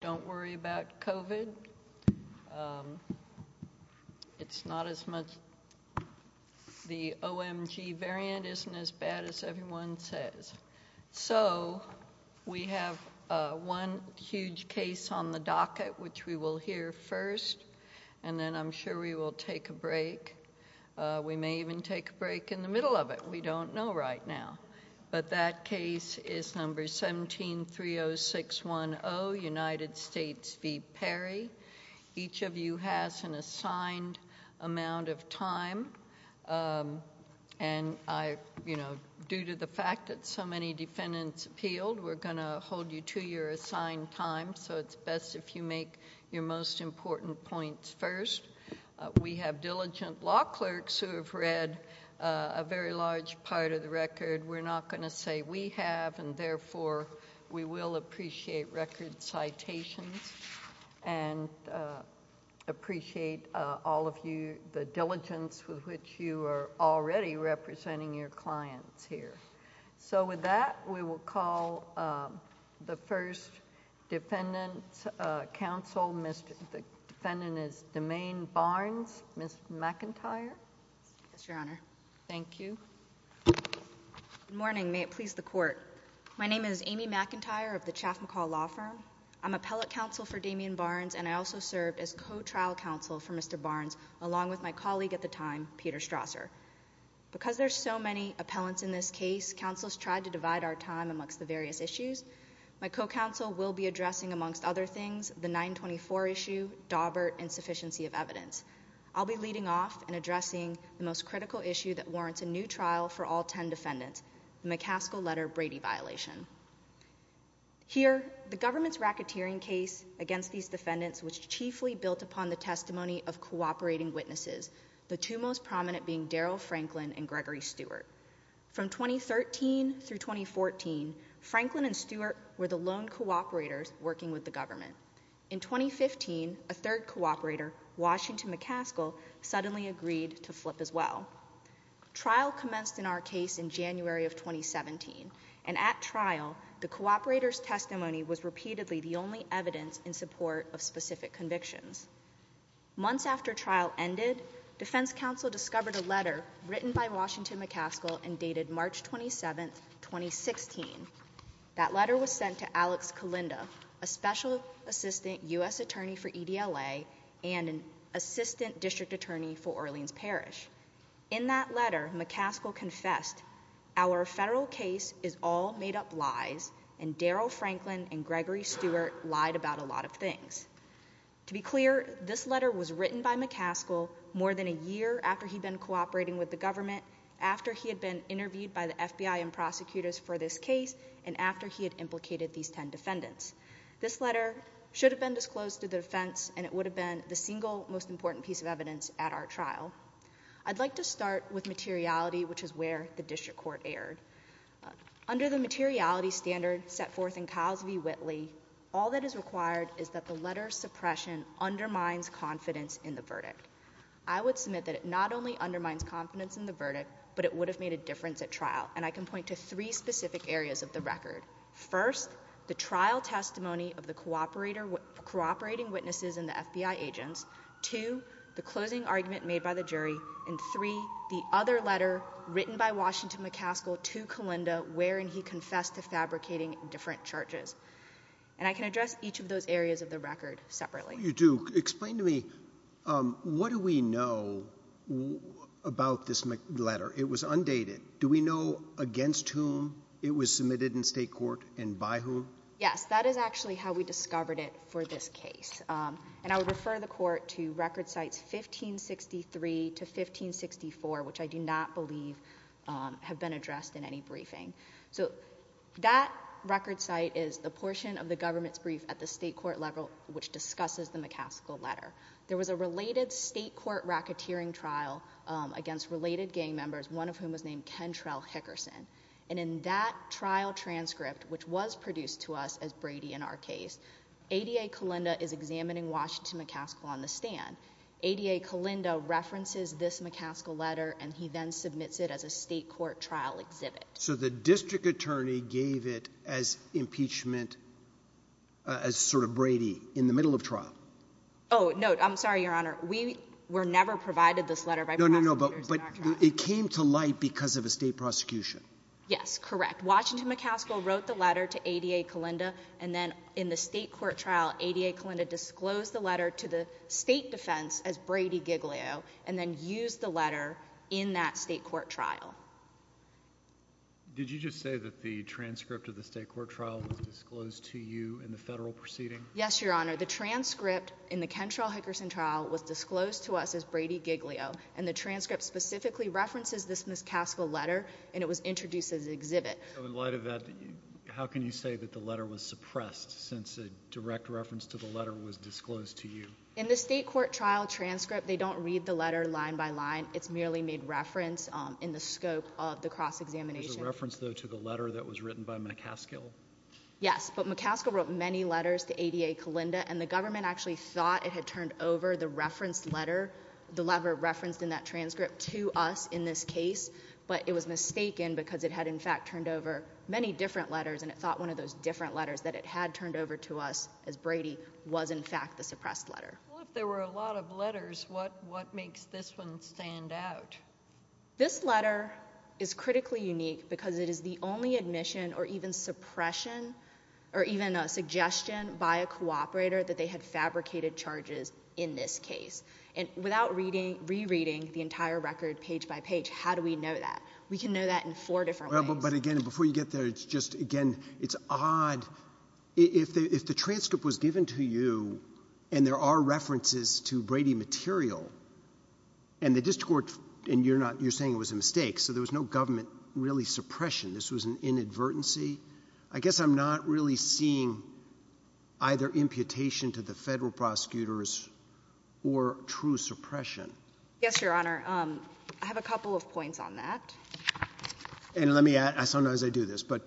don't worry about COVID. It's not as much the OMG variant isn't as bad as everyone says. So we have one huge case on the docket, which we will hear first. And then I'm sure we will take a break. We may even take a break in the middle of it. We don't know right now. But that case is number 1730610, United States v. Perry. Each of you has an assigned amount of time. And due to the fact that so many defendants appealed, we're going to hold you to your assigned time. So it's best if you make your most important points first. We have diligent law clerks who have read a very large part of the record. We're not going to say we have. And therefore, we will appreciate record citations and appreciate all of you, the diligence with which you are already representing your clients here. So with that, we will call the first defendant counsel. The defendant is Domaine Barnes, Ms. McIntyre. It's your honor. Thank you. Good morning. May it please the court. My name is Amy McIntyre of the Chaff McCall Law Firm. I'm appellate counsel for Damien Barnes, and I also served as co-trial counsel for Mr. Barnes, along with my colleague at the time, Peter Strasser. Because there's so many appellants in this case, counsels tried to divide our time amongst the various issues. My co-counsel will be addressing, amongst other things, the 924 issue, Daubert insufficiency of evidence. I'll be leading off and addressing the most critical issue that warrants a new trial for all 10 defendants, the McCaskill-Letter-Brady violation. Here, the government's racketeering case against these defendants was chiefly built upon the testimony of cooperating witnesses, the two most prominent being Daryl Franklin and Gregory Stewart. From 2013 through 2014, Franklin and Stewart were the lone cooperators working with the government. In 2015, a third cooperator, Washington McCaskill, suddenly agreed to flip as well. Trial commenced in our case in January of 2017, and at trial, the cooperator's testimony was repeatedly the only evidence in support of specific convictions. Months after trial ended, defense counsel discovered a letter written by Washington McCaskill and dated March 27, 2016. That letter was sent to Alex Kalinda, a specialist assistant U.S. attorney for EDLA and an assistant district attorney for Orleans Parish. In that letter, McCaskill confessed, our federal case is all made up lies, and Daryl Franklin and Gregory Stewart lied about a lot of things. To be clear, this letter was written by McCaskill more than a year after he'd been cooperating with the government, after he had been interviewed by the FBI and prosecutors for this case, and after he had implicated these 10 defendants. This letter should have been disclosed to the defense, and it would have been the single most important piece of evidence at our trial. I'd like to start with materiality, which is where the district court erred. Under the materiality standard set forth in Cosby-Whitley, all that is required is that the letter's suppression undermines confidence in the verdict. I would submit that it not only undermines confidence in the verdict, but it would have made a difference at trial, and I can point to three specific areas of the record. First, the trial testimony of the cooperating witnesses and the FBI agents. Two, the closing argument made by the jury, and three, the other letter written by Washington McCaskill to Kalinda, wherein he confessed to fabricating different charges, and I can address each of those areas of the record separately. You do. Explain to me, what do we know about this letter? It was undated. Do we know against whom it was submitted in state court and by whom? Yes, that is actually how we discovered it for this case. And I would refer the court to record sites 1563 to 1564, which I do not believe have been addressed in any briefing. So that record site is a portion of the government's brief at the state court level, which discusses the McCaskill letter. There was a related state court racketeering trial against related gang members, one of whom was named Kentrell Hickerson. And in that trial transcript, which was produced to us as Brady in our case, ADA Kalinda is examining Washington McCaskill on the stand. ADA Kalinda references this McCaskill letter, and he then submits it as a state court trial exhibit. So the district attorney gave it as impeachment as sort of Brady in the middle of trial. Oh, no, I'm sorry, Your Honor. We were never provided this letter. No, no, no. But it came to light because of a state prosecution. Yes, correct. Washington McCaskill wrote the letter to ADA Kalinda. And then in the state court trial, ADA Kalinda disclosed the letter to the state defense as Brady Giglio and then used the letter in that state court trial. Did you just say that the transcript of the state court trial was disclosed to you in the federal proceeding? Yes, Your Honor. The transcript in the Kentrell Hickerson trial was disclosed to us as Brady Giglio. And the transcript specifically references this McCaskill letter, and it was introduced as an exhibit. I would light of that, how can you say that the letter was suppressed since a direct reference to the letter was disclosed to you? In the state court trial transcript, they don't read the letter line by line. It's merely made reference in the scope of the cross-examination. There's a reference, though, to the letter that was written by McCaskill. Yes, but McCaskill wrote many letters to ADA Kalinda, and the government actually thought it had turned over the reference letter, the letter referenced in that transcript, to us in this case. But it was mistaken because it had in fact turned over many different letters, and it thought one of those different letters, but it had turned over to us as Brady was in fact the suppressed letter. Well, if there were a lot of letters, what makes this one stand out? This letter is critically unique because it is the only admission or even suppression or even a suggestion by a without rereading the entire record page by page. How do we know that? We can know that in four different ways. But again, before you get there, it's just, again, it's odd. If the transcript was given to you and there are references to Brady material and the district court, and you're saying it was a mistake, so there was no government really suppression. This was an inadvertency. I guess I'm not really seeing either imputation to the federal prosecutors or true suppression. Yes, Your Honor. I have a couple of points on that. And let me add, I sometimes I do this, but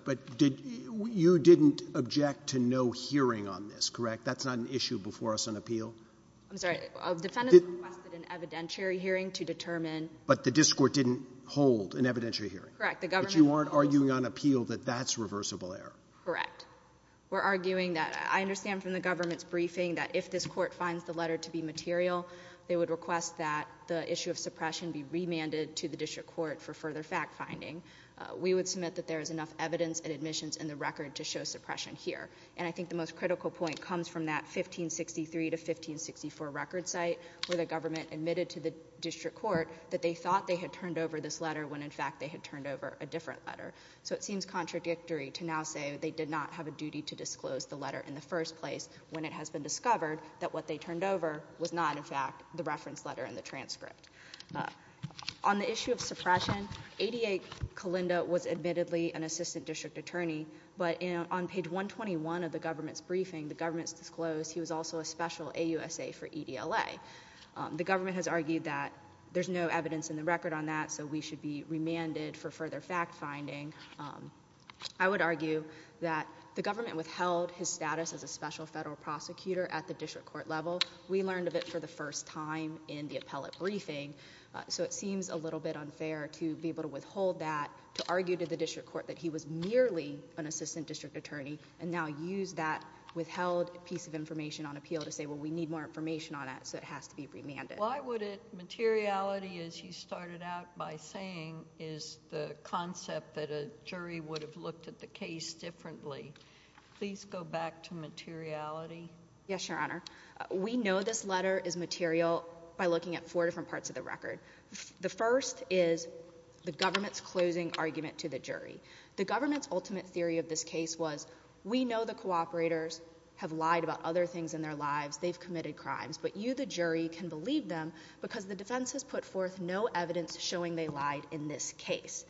you didn't object to no hearing on this, correct? That's not an issue before us on appeal. I'm sorry, a defendant requested an evidentiary hearing to determine. But the district court didn't hold an evidentiary hearing. Correct. But you aren't arguing on appeal that that's reversible error. Correct. We're arguing that I understand from the government's briefing that if this court finds the letter to be material, they would request that the issue of suppression be remanded to the district court for further fact finding. We would submit that there is enough evidence and admissions in the record to show suppression here. And I think the most critical point comes from that 1563 to 1564 record site where the government admitted to the district court that they thought they had turned over this letter when, in fact, they had turned over a different letter. So it seems contradictory to now say they did not have a duty to disclose the letter in the first place when it has been discovered that what they turned over was not, in fact, the reference letter in the transcript. On the issue of suppression, 88 Colinda was admittedly an assistant district attorney. But on page 121 of the government's briefing, the government disclosed he was also a special AUSA for EDLA. The government has argued that there's no evidence in the record on that, so we should be remanded for further fact finding. I would argue that the government withheld his status as a special federal prosecutor at the district court level. We learned of it for the first time in the appellate briefing. So it seems a little bit unfair to be able to withhold that, to argue to the district court that he was merely an assistant district attorney and now use that withheld piece of information on appeal to say, well, we need more information on it. So it has to be remanded. Why would it, materiality, as you started out by saying, is the concept that a jury would have looked at the case differently. Please go back to materiality. Yes, Your Honor. We know this letter is material by looking at four different parts of the record. The first is the government's closing argument to the jury. The government's ultimate theory of this case was we know the cooperators have lied about other things in their lives. They've committed crimes. But you, the jury, can believe them because the defense has put forth no evidence showing they lied in this case.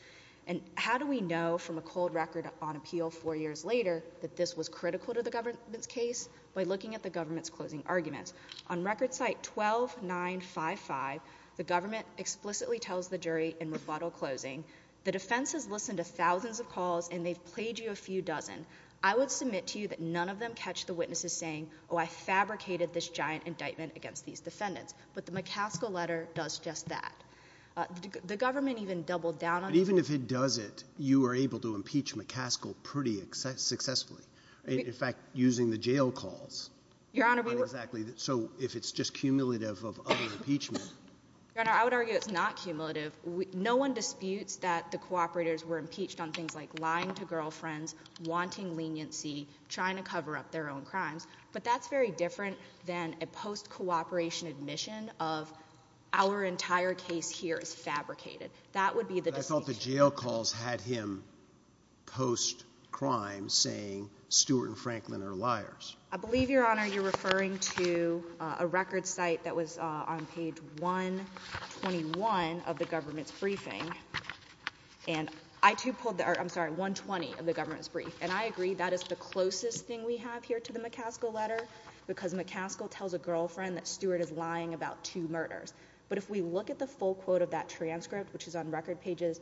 And how do we know from a cold record on appeal four years later that this was critical to the government's case? By looking at the government's closing argument. On record site 12-955, the government explicitly tells the jury in rebuttal closing, the defense has listened to thousands of calls and they've played you a few dozen. I would submit to you that none of them catch the witnesses saying, oh, I fabricated this giant indictment against these defendants. But the McCaskill letter does just that. The government even doubled down on it. Even if it does it, you were able to impeach McCaskill pretty successfully, in fact, using the jail calls. Your Honor, so if it's just cumulative of other impeachments, I would argue it's not cumulative. No one disputes that the cooperators were impeached on things like lying to girlfriends, wanting leniency, trying to cover up their own crimes. But that's very different than a post-cooperation admission of our entire case here is fabricated. That would be the distinction. I thought the jail calls had him post-crime saying Stuart and Franklin are liars. I believe, Your Honor, you're referring to a record site that was on page 121 of the government's briefing. And I too pulled, I'm sorry, 120 of the government's brief. And I agree that it's the closest thing we have here to the McCaskill letter because McCaskill tells a girlfriend that Stuart is lying about two murders. But if we look at the full quote of that transcript, which is on record pages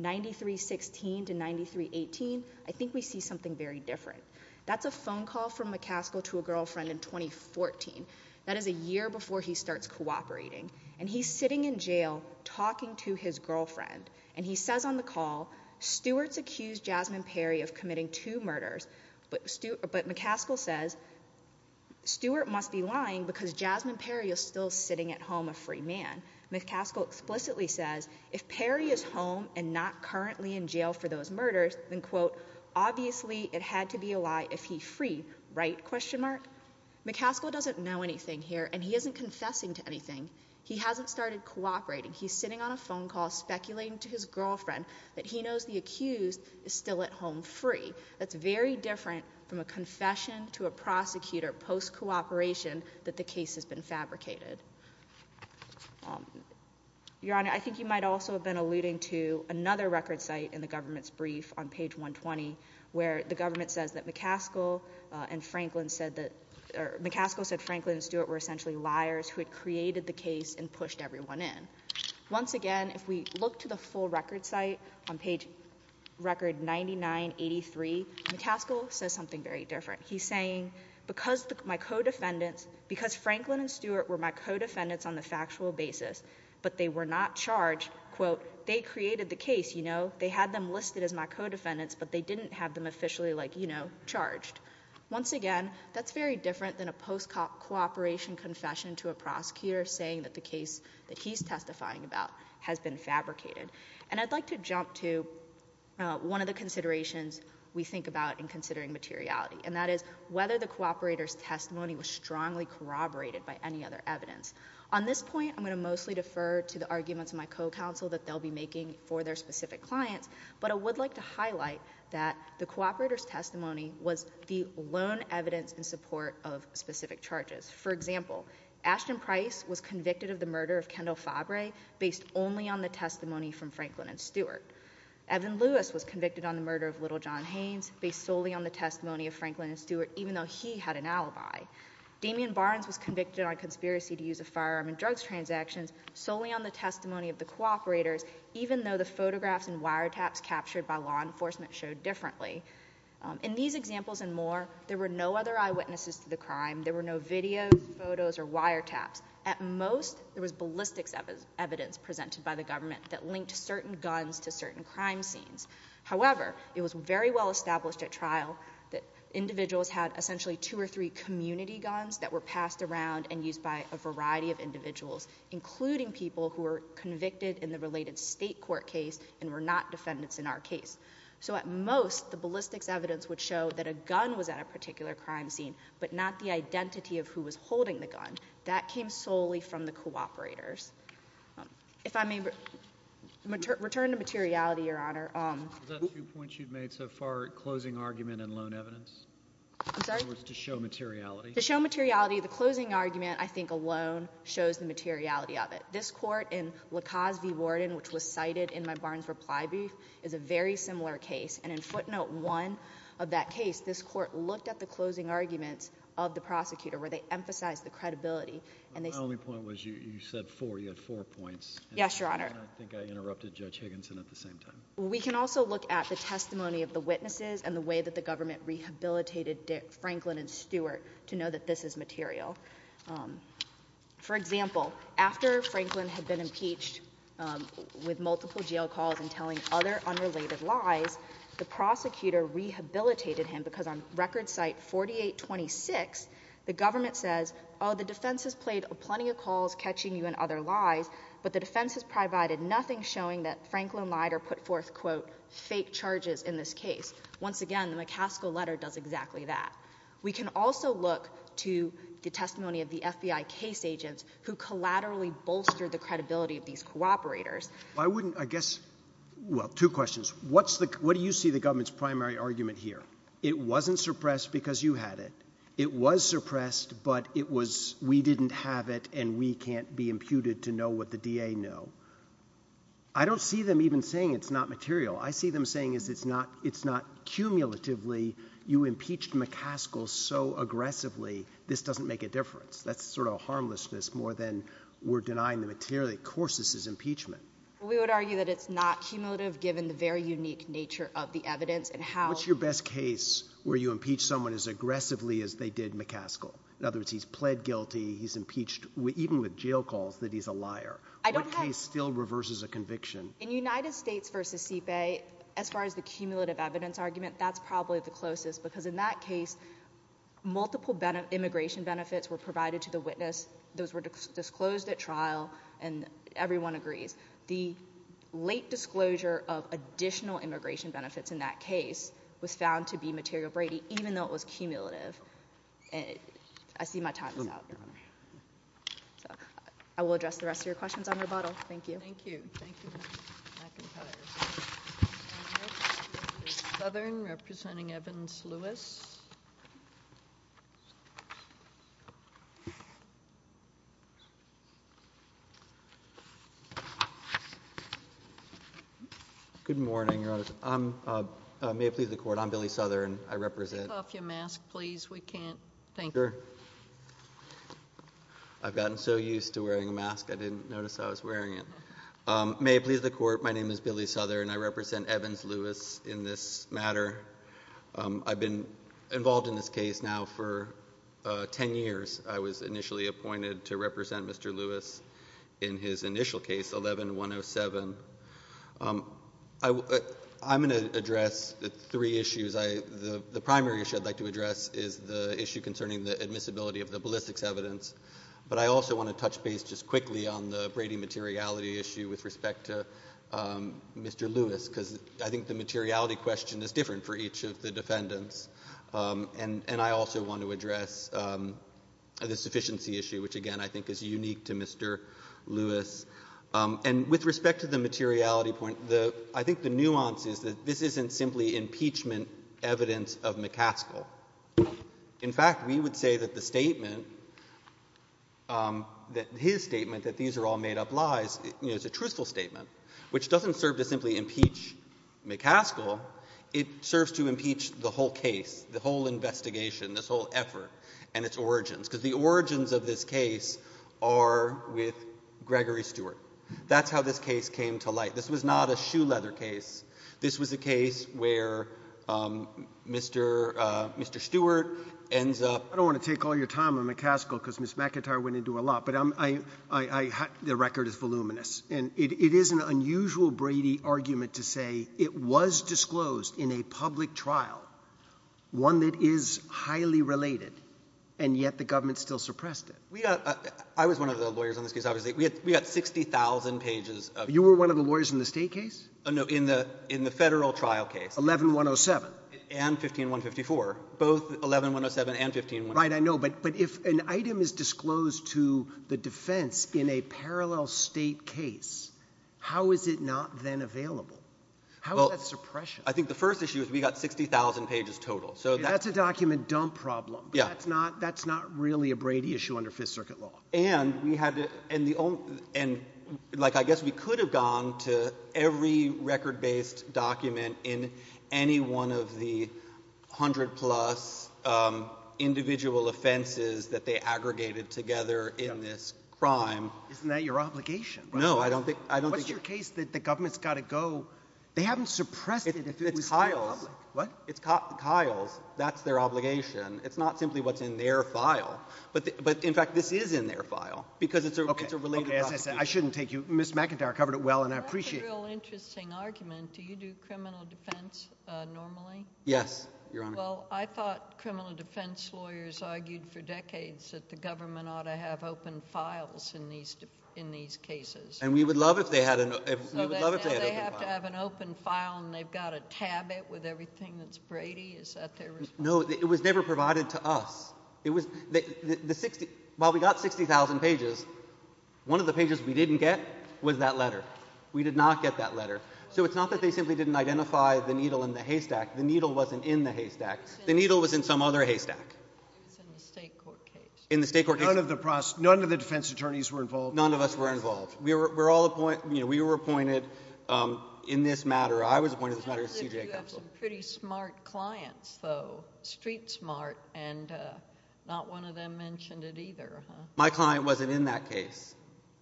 93-16 to 93-18, I think we see something very different. That's a phone call from McCaskill to a girlfriend in 2014. That is a year before he starts cooperating. And he's sitting in jail talking to his girlfriend. And he says on the call, Stuart's accused Jasmine Perry of committing two murders. But McCaskill says, Stuart must be lying because Jasmine Perry is still sitting at home a free man. McCaskill explicitly says, if Perry is home and not currently in jail for those murders, then quote, obviously it had to be a lie if he's free. Right? Question mark. McCaskill doesn't know anything here and he isn't confessing to anything. He hasn't started cooperating. He's sitting on a phone call speculating to his girlfriend that he knows the accused is still at home free. That's very different from a confession to a prosecutor post-cooperation that the case has been fabricated. Your Honor, I think you might also have been alluding to another record site in the government's brief on page 120, where the government says that McCaskill and Franklin said that, or McCaskill said Franklin and Stuart were essentially liars who had created the case and pushed everyone in. Once again, if we look to the full record site on page record 99-83, McCaskill says something very different. He's saying, because my co-defendants, because Franklin and Stuart were my co-defendants on a factual basis, but they were not charged, quote, they created the case, you know, they had them listed as my co-defendants, but they didn't have them officially, like, you know, charged. Once again, that's very different than a post-cooperation confession to a prosecutor saying that the case that he's testifying about has been fabricated. And I'd like to jump to one of the considerations we think about in considering materiality. And that is whether the cooperator's testimony was strongly corroborated by any other evidence. On this point, I'm going to mostly defer to the arguments of my co-counsel that they'll be making for their specific client, but I would like to highlight that the cooperator's testimony was the lone evidence in support of specific charges. For example, Ashton Price was convicted of the murder of Kendall Fabre based only on the testimony from Franklin and Stuart. Evan Lewis was convicted on the murder of Little John Haynes based solely on the testimony of Franklin and Stuart, even though he had an alibi. Damian Barnes was convicted on conspiracy to use a firearm in drugs transactions solely on the testimony of the cooperator, even though the photographs and wiretaps captured by law enforcement showed differently. In these examples and more, there were no other eyewitnesses to the crime. There were no videos, photos, or wiretaps. At most, there was ballistics evidence presented by the government that linked certain guns to certain crime scenes. However, it was very well established at trial that individuals had essentially two or three community guns that were passed around and used by a variety of individuals, including people who were convicted in the related state court case and were not defendants in our case. So at most, the ballistics evidence would show that a gun was at a particular crime scene, but not the identity of who was holding the gun. That came solely from the cooperators. If I may return to materiality, Your Honor. The two points you've made so far, closing argument and lone evidence, was to show materiality. To show materiality, the closing argument, I think, alone shows the materiality of it. This court in LaCasse v. Warden, which was cited in my Barnes reply brief, is a very similar case. And in footnote one of that case, this court looked at the closing argument of the prosecutor, where they emphasized the credibility. My only point was, you said four, you had four points. Yes, Your Honor. I don't think I interrupted Judge Higginson at the same time. We can also look at the testimony of the witnesses and the way that the government rehabilitated Dick Franklin and Stewart to know that this is material. For example, after Franklin had been impeached with multiple jail calls and telling other unrelated lies, the prosecutor rehabilitated him, because on record site 4826, the government says, oh, the defense has played plenty of calls catching you in other lies, but the defense has provided nothing showing that Franklin Mider put forth, quote, fake charges in this case. Once again, the LaCasse letter does exactly that. We can also look to the testimony of the FBI case agents who collaterally bolstered the credibility of these cooperators. I wouldn't, I guess, well, two questions. What's the, what do you see the government's primary argument here? It wasn't suppressed because you had it. It was suppressed, but it was, we didn't have it and we can't be imputed to know what the DA know. I don't see them even saying it's not material. I see them saying is it's not, it's not cumulatively. You impeached McCaskill so aggressively. This doesn't make a difference. That's sort of a harmlessness more than we're denying the material. Of course, this is impeachment. We would argue that it's not cumulative, given the very unique nature of the evidence and how. What's your best case where you impeach someone as aggressively as they did McCaskill? In other words, he's pled guilty. He's impeached with even with jail calls that he's a liar. I don't think he still reverses a conviction. In United States versus CFA, as far as the cumulative evidence argument, that's probably the closest because in that case, multiple immigration benefits were provided to the witness. Those were disclosed at trial and everyone agrees. The late disclosure of additional immigration benefits in that case was found to be material Brady, even though it was cumulative. And I see my time is up. I will address the rest of your questions on rebuttal. Thank you. Thank you. Thank you. I can Southern representing Evans Lewis. Good morning. I'm maybe the court. I'm Billy Southern. I represent your mask, please. We can't thank her. I've gotten so used to wearing a mask. I didn't notice I was wearing it. Maybe the court. My name is Billy Southern. I represent Evans Lewis in this matter. I've been involved in this case now for 10 years. I was initially appointed to represent Mr. Lewis in his initial case, 11, 1 0 7. I'm going to address the three issues. I, the primary issue I'd like to address is the issue concerning the admissibility of the ballistics evidence. But I also want to touch base just quickly on the Brady materiality issue with respect to Mr. Lewis, because I think the materiality question is different for each of the defendants. And I also want to address the sufficiency issue, which again, I think is unique to Mr. Lewis and with respect to the materiality point, the, I think the nuances that this isn't simply impeachment evidence of McCaskill. In fact, we would say that the statement, that his statement, that these are all made up lies is a truthful statement, which doesn't serve to simply impeach McCaskill. It serves to impeach the whole case, the whole investigation, this whole effort and its origins. Because the origins of this case are with Gregory Stewart. That's how this case came to light. This was not a shoe leather case. This was a case where Mr. Mr. Stewart ends up. I don't want to take all your time on McCaskill because Ms. McIntyre went into a lot, but I, the record is voluminous and it is an unusual Brady argument to say it was disclosed in a public trial, one that is highly related and yet the government still suppressed it. I was one of the lawyers on this case. We got 60,000 pages. You were one of the lawyers in the state case? No, in the, in the federal trial case, 11107 and 15154, both 11107 and 15154. Right. I know. But, but if an item is disclosed to the defense in a parallel state case, how is it not then available? How is that suppression? I think the first issue is we got 60,000 pages total. So that's a document dump problem. Yeah, it's not, that's not really a Brady issue under fifth circuit law. And we had this and the old, and like, I guess we could have gone to every record based document in any one of the hundred plus individual offenses that they aggregated together in this crime. Isn't that your obligation? No, I don't think, I don't think your case that the government's got to go. They haven't suppressed it. What Kyle, that's their obligation. It's not simply what's in their file. But, but in fact, this is in their file because it's a related, I shouldn't take you. Ms. McIntyre covered it well, and I appreciate real interesting arguments. Do you do criminal defense normally? Yes. Well, I thought criminal defense lawyers argued for decades that the government ought to have open files in these, in these cases. And we would love if they had an open file and they've got to tab it with everything that's Brady. Is that there? No, it was never provided to us. It was the 60, while we got 60,000 pages, one of the pages we didn't get was that letter. We did not get that letter. So it's not that they simply didn't identify the needle in the haystack. The needle wasn't in the haystack. The needle was in some other haystack. In the state court case. None of the defense attorneys were involved. None of us were involved. We were, we're all appointed, you know, we were appointed in this matter. I was appointed in this matter. Pretty smart clients, though, street smart. And not one of them mentioned it either. My client wasn't in that case.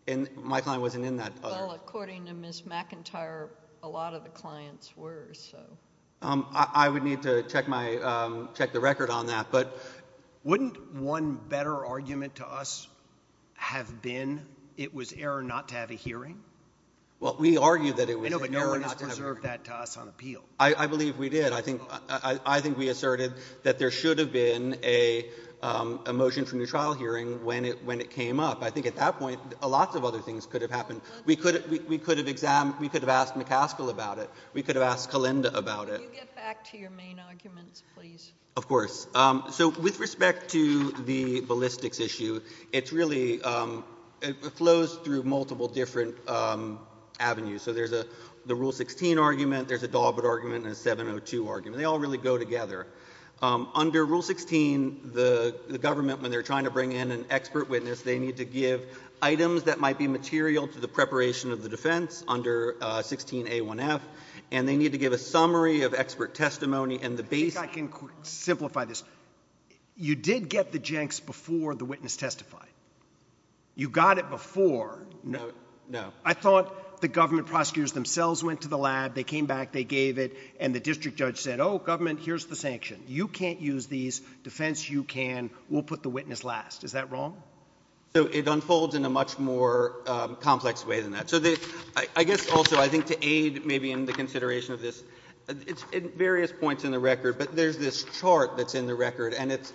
And my client wasn't in that. Well, according to Ms. McIntyre, a lot of the clients were, so. I would need to check my, check the record on that. But wouldn't one better argument to us have been, it was error not to have a hearing? Well, we argued that it was error not to have a hearing. But no one has preserved that to us on appeal. I believe we did. I think, I think we asserted that there should have been a, a motion from the trial hearing when it, when it came up. I think at that point, a lot of other things could have happened. We could have, we could have examined, we could have asked McCaskill about it. We could have asked Kalinda about it. Can you get back to your main arguments, please? Of course. So with respect to the ballistics issue, it's really, it flows through multiple different avenues. So there's a, the Rule 16 argument, there's a Galbraith argument, and a 702 argument. They all really go together. Under Rule 16, the, the government, when they're trying to bring in an expert witness, they need to give items that might be material to the preparation of the defense under 16A1F. And they need to give a summary of expert testimony. And the basic. I think I can simplify this. You did get the jenks before the witness testified. You got it before. No. No. I thought the government prosecutors themselves went to the lab. They came back. They gave it. And the district judge said, oh, government, here's the sanction. You can't use these. Defense, you can. We'll put the witness last. Is that wrong? So it unfolds in a much more complex way than that. So the, I guess also, I think to aid maybe in the consideration of this, it's various points in the record, but there's this chart that's in the record. And it's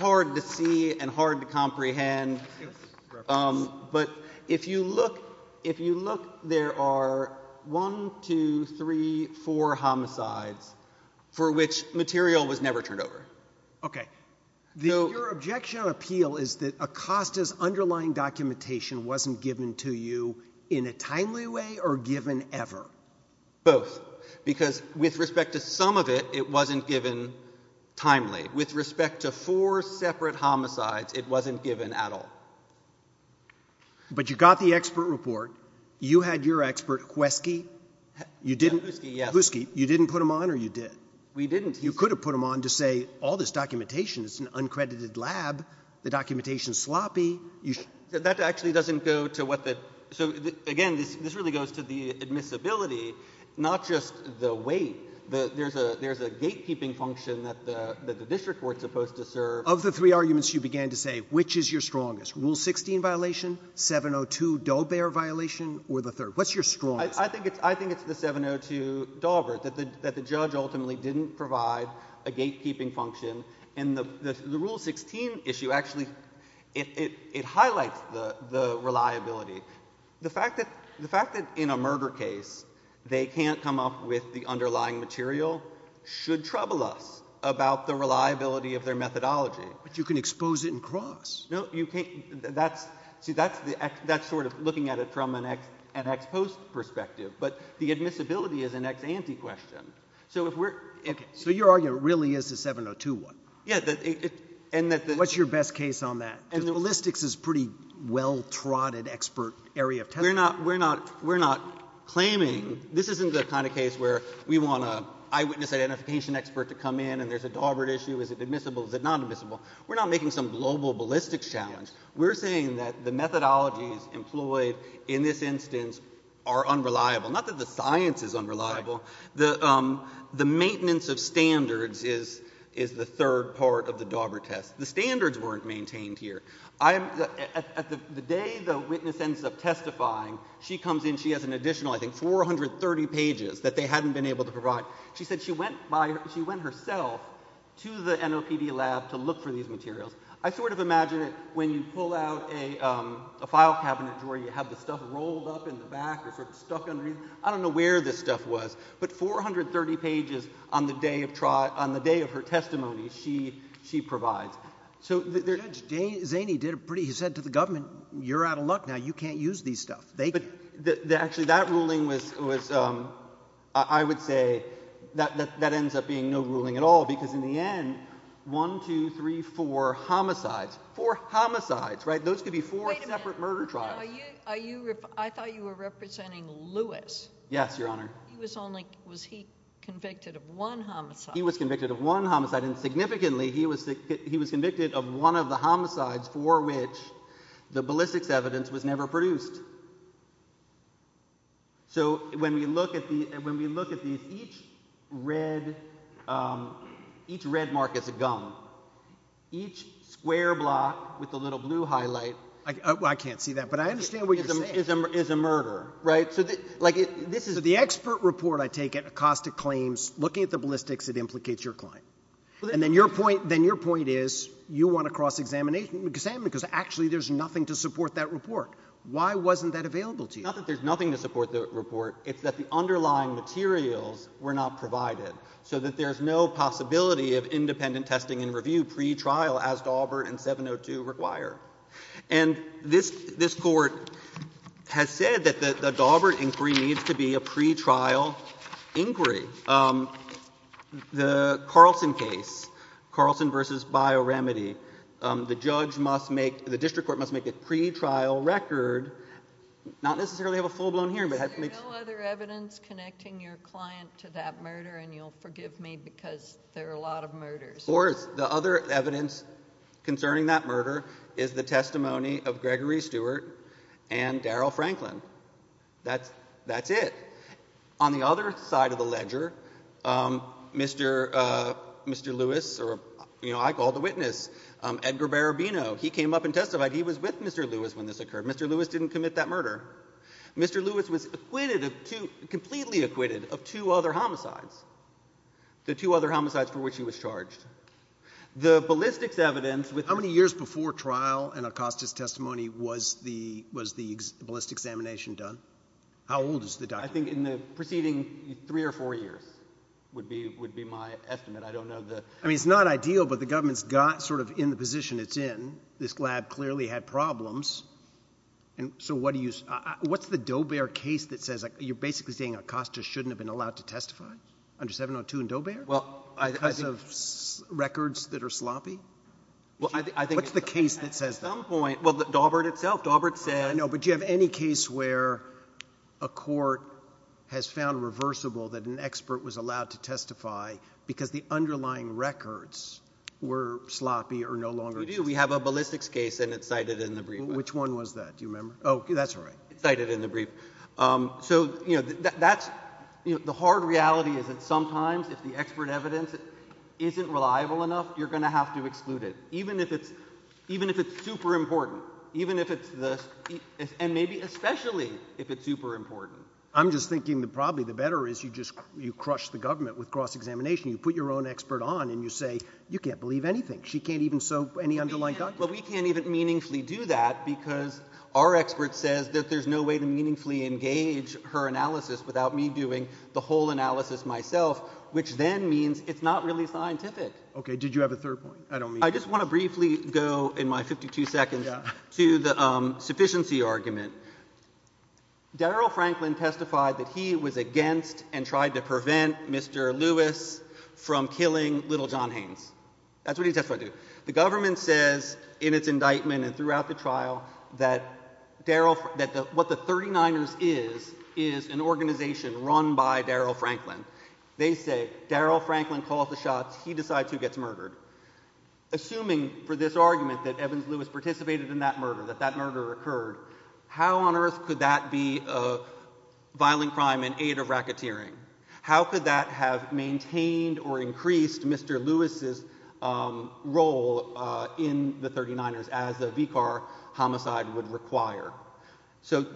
hard to see and hard to comprehend. But if you look, if you look, there are one, two, three, four homicides for which material was never turned over. Okay. Your objection or appeal is that Acosta's underlying documentation wasn't given to you in a timely way or given ever? Both. Because with respect to some of it, it wasn't given timely. With respect to four separate homicides, it wasn't given at all. But you got the expert report. You had your expert, Kweski. You didn't, Kluski, you didn't put them on or you did? We didn't. You could have put them on to say, all this documentation is an uncredited lab. The documentation is sloppy. That actually doesn't go to what the, so again, this really goes to the admissibility, not just the weight, there's a gatekeeping function that the district was supposed to serve. Of the three arguments you began to say, which is your strongest? Rule 16 violation, 702 Dolbert violation, or the third? What's your strongest? I think it's the 702 Dolbert, that the judge ultimately didn't provide a gatekeeping function. And the Rule 16 issue actually, it highlights the reliability. The fact that in a murder case, they can't come up with the underlying material should trouble us about the reliability of their methodology. But you can expose it in Cross. No, you can't, that's, see that's sort of looking at it from an ex-post perspective. But the admissibility is an ex-ante question. So if we're, if. So your argument really is the 702 one? Yes, and that the. What's your best case on that? And the ballistics is pretty well trotted expert area of. We're not, we're not, we're not claiming, this isn't the kind of case where we want an eyewitness identification expert to come in and there's a Dolbert issue, is it admissible, is it not admissible? We're not making some global ballistics challenge. We're saying that the methodology employed in this instance are unreliable. Not that the science is unreliable. The maintenance of standards is the third part of the Dolbert test. The standards weren't maintained here. I, at the day the witness ends up testifying, she comes in, she has an additional, I think, 430 pages that they hadn't been able to provide. She said she went by, she went herself to the NOCD lab to look for these materials. I sort of imagine it when you pull out a, a file cabinet where you have the stuff rolled up in the back or sort of stuck underneath, I don't know where this stuff was. But 430 pages on the day of trial, on the day of her testimony she, she provides. So the judge Zaney did a pretty, he said to the government, you're out of luck now. You can't use these stuff. They, they, actually that ruling was, was I would say that, that, that ends up being no ruling at all because in the end, one, two, three, four homicides, four homicides, right? Those could be four separate murder trials. Are you, are you, I thought you were representing Lewis. Yes, Your Honor. He was only, was he convicted of one homicide? He was convicted of one homicide. And significantly, he was, he was convicted of one of the homicides for which the ballistics evidence was never produced. So when we look at the, when we look at these, each red, each red mark is a gun. Each square block with a little blue highlight. I, I, I can't see that. But I understand what you're saying. Is a, is a, is a murder, right? So the, like, this is the expert report I take at Acosta Claims looking at the ballistics that implicates your client. And then your point, then your point is you want to cross-examine, examine because actually there's nothing to support that report. Why wasn't that available to you? Not that there's nothing to support the report. It's that the underlying materials were not provided so that there's no possibility of independent testing and review pre-trial as Daubert and 702 require. And this, this court has said that the Daubert inquiry needs to be a pre-trial inquiry. The Carlson case, Carlson versus Bio-Remedy, the judge must make, the district court must make a pre-trial record, not necessarily have a full-blown hearing, but has to make. There's no other evidence connecting your client to that murder, and you'll forgive me because there are a lot of murders. Or the other evidence concerning that murder is the testimony of Gregory Stewart and Daryl Franklin. That's, that's it. On the other side of the ledger, Mr. Lewis, or you know, I call the witness, Edgar Barabino, he came up and testified. He was with Mr. Lewis when this occurred. Mr. Lewis didn't commit that murder. Mr. Lewis was acquitted of two, completely acquitted of two other homicides, the two other homicides for which he was charged. The ballistics evidence was. How many years before trial and Acosta's testimony was the, was the ballistics examination done? How old is the guy? I think in the preceding three or four years would be, would be my estimate. I don't know the, I mean, it's not ideal, but the government's got sort of in the position it's in, this lab clearly had problems. And so what do you, what's the Dobear case that says, like, you're basically saying Acosta shouldn't have been allowed to testify under 702 and Dobear because of records that are sloppy? Well, I think. What's the case that says that? At some point, well, the Daubert itself, Daubert said. I know, but do you have any case where a court has found reversible that an expert was allowed to testify because the underlying records were sloppy or no longer? We do. We have a ballistics case and it's cited in the brief. Which one was that? Do you remember? Oh, that's right. It's cited in the brief. So, you know, that's the hard reality is that sometimes if the expert evidence isn't reliable enough, you're going to have to exclude it. Even if it's, even if it's super important, even if it's the, and maybe especially if it's super important. I'm just thinking that probably the better is you just, you crush the government with cross-examination. You put your own expert on and you say, you can't believe anything. She can't even soak any underlying documents. But we can't even meaningfully do that because our expert says that there's no way to meaningfully engage her analysis without me doing the whole analysis myself, which then means it's not really scientific. Okay. Did you have a third point? I don't mean. I just want to briefly go in my 52 seconds to the sufficiency argument. Darryl Franklin testified that he was against and tried to prevent Mr. Lewis from killing little John Haynes. That's what he testified to. The government says in its indictment and throughout the trial that Darryl, that what the 39 is, is, is an organization run by Darryl Franklin. They say Darryl Franklin calls the shots. He decides who gets murdered. Assuming for this argument that Evans Lewis participated in that murder, that that murder occurred, how on earth could that be a violent crime in aid of racketeering? How could that have maintained or increased Mr. Lewis's role in the 39ers as a VCAR homicide would require? So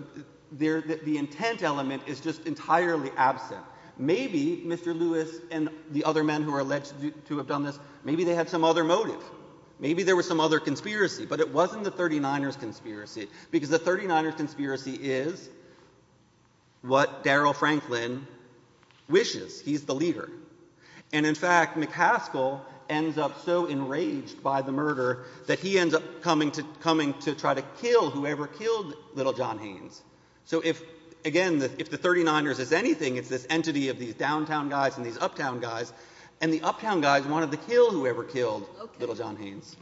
there, the intent element is just entirely absent. Maybe Mr. Lewis and the other men who are alleged to have done this, maybe they had some other motive. Maybe there was some other conspiracy, but it wasn't the 39ers conspiracy because the 39ers conspiracy is what Darryl Franklin wishes. He's the leader. And in fact, McCaskill ends up so enraged by the murder that he ends up coming to, coming to try to kill whoever killed little John Haynes. So if, again, if the 39ers is anything, it's this entity of these downtown guys and these uptown guys and the uptown guys wanted to kill whoever killed little John Haynes.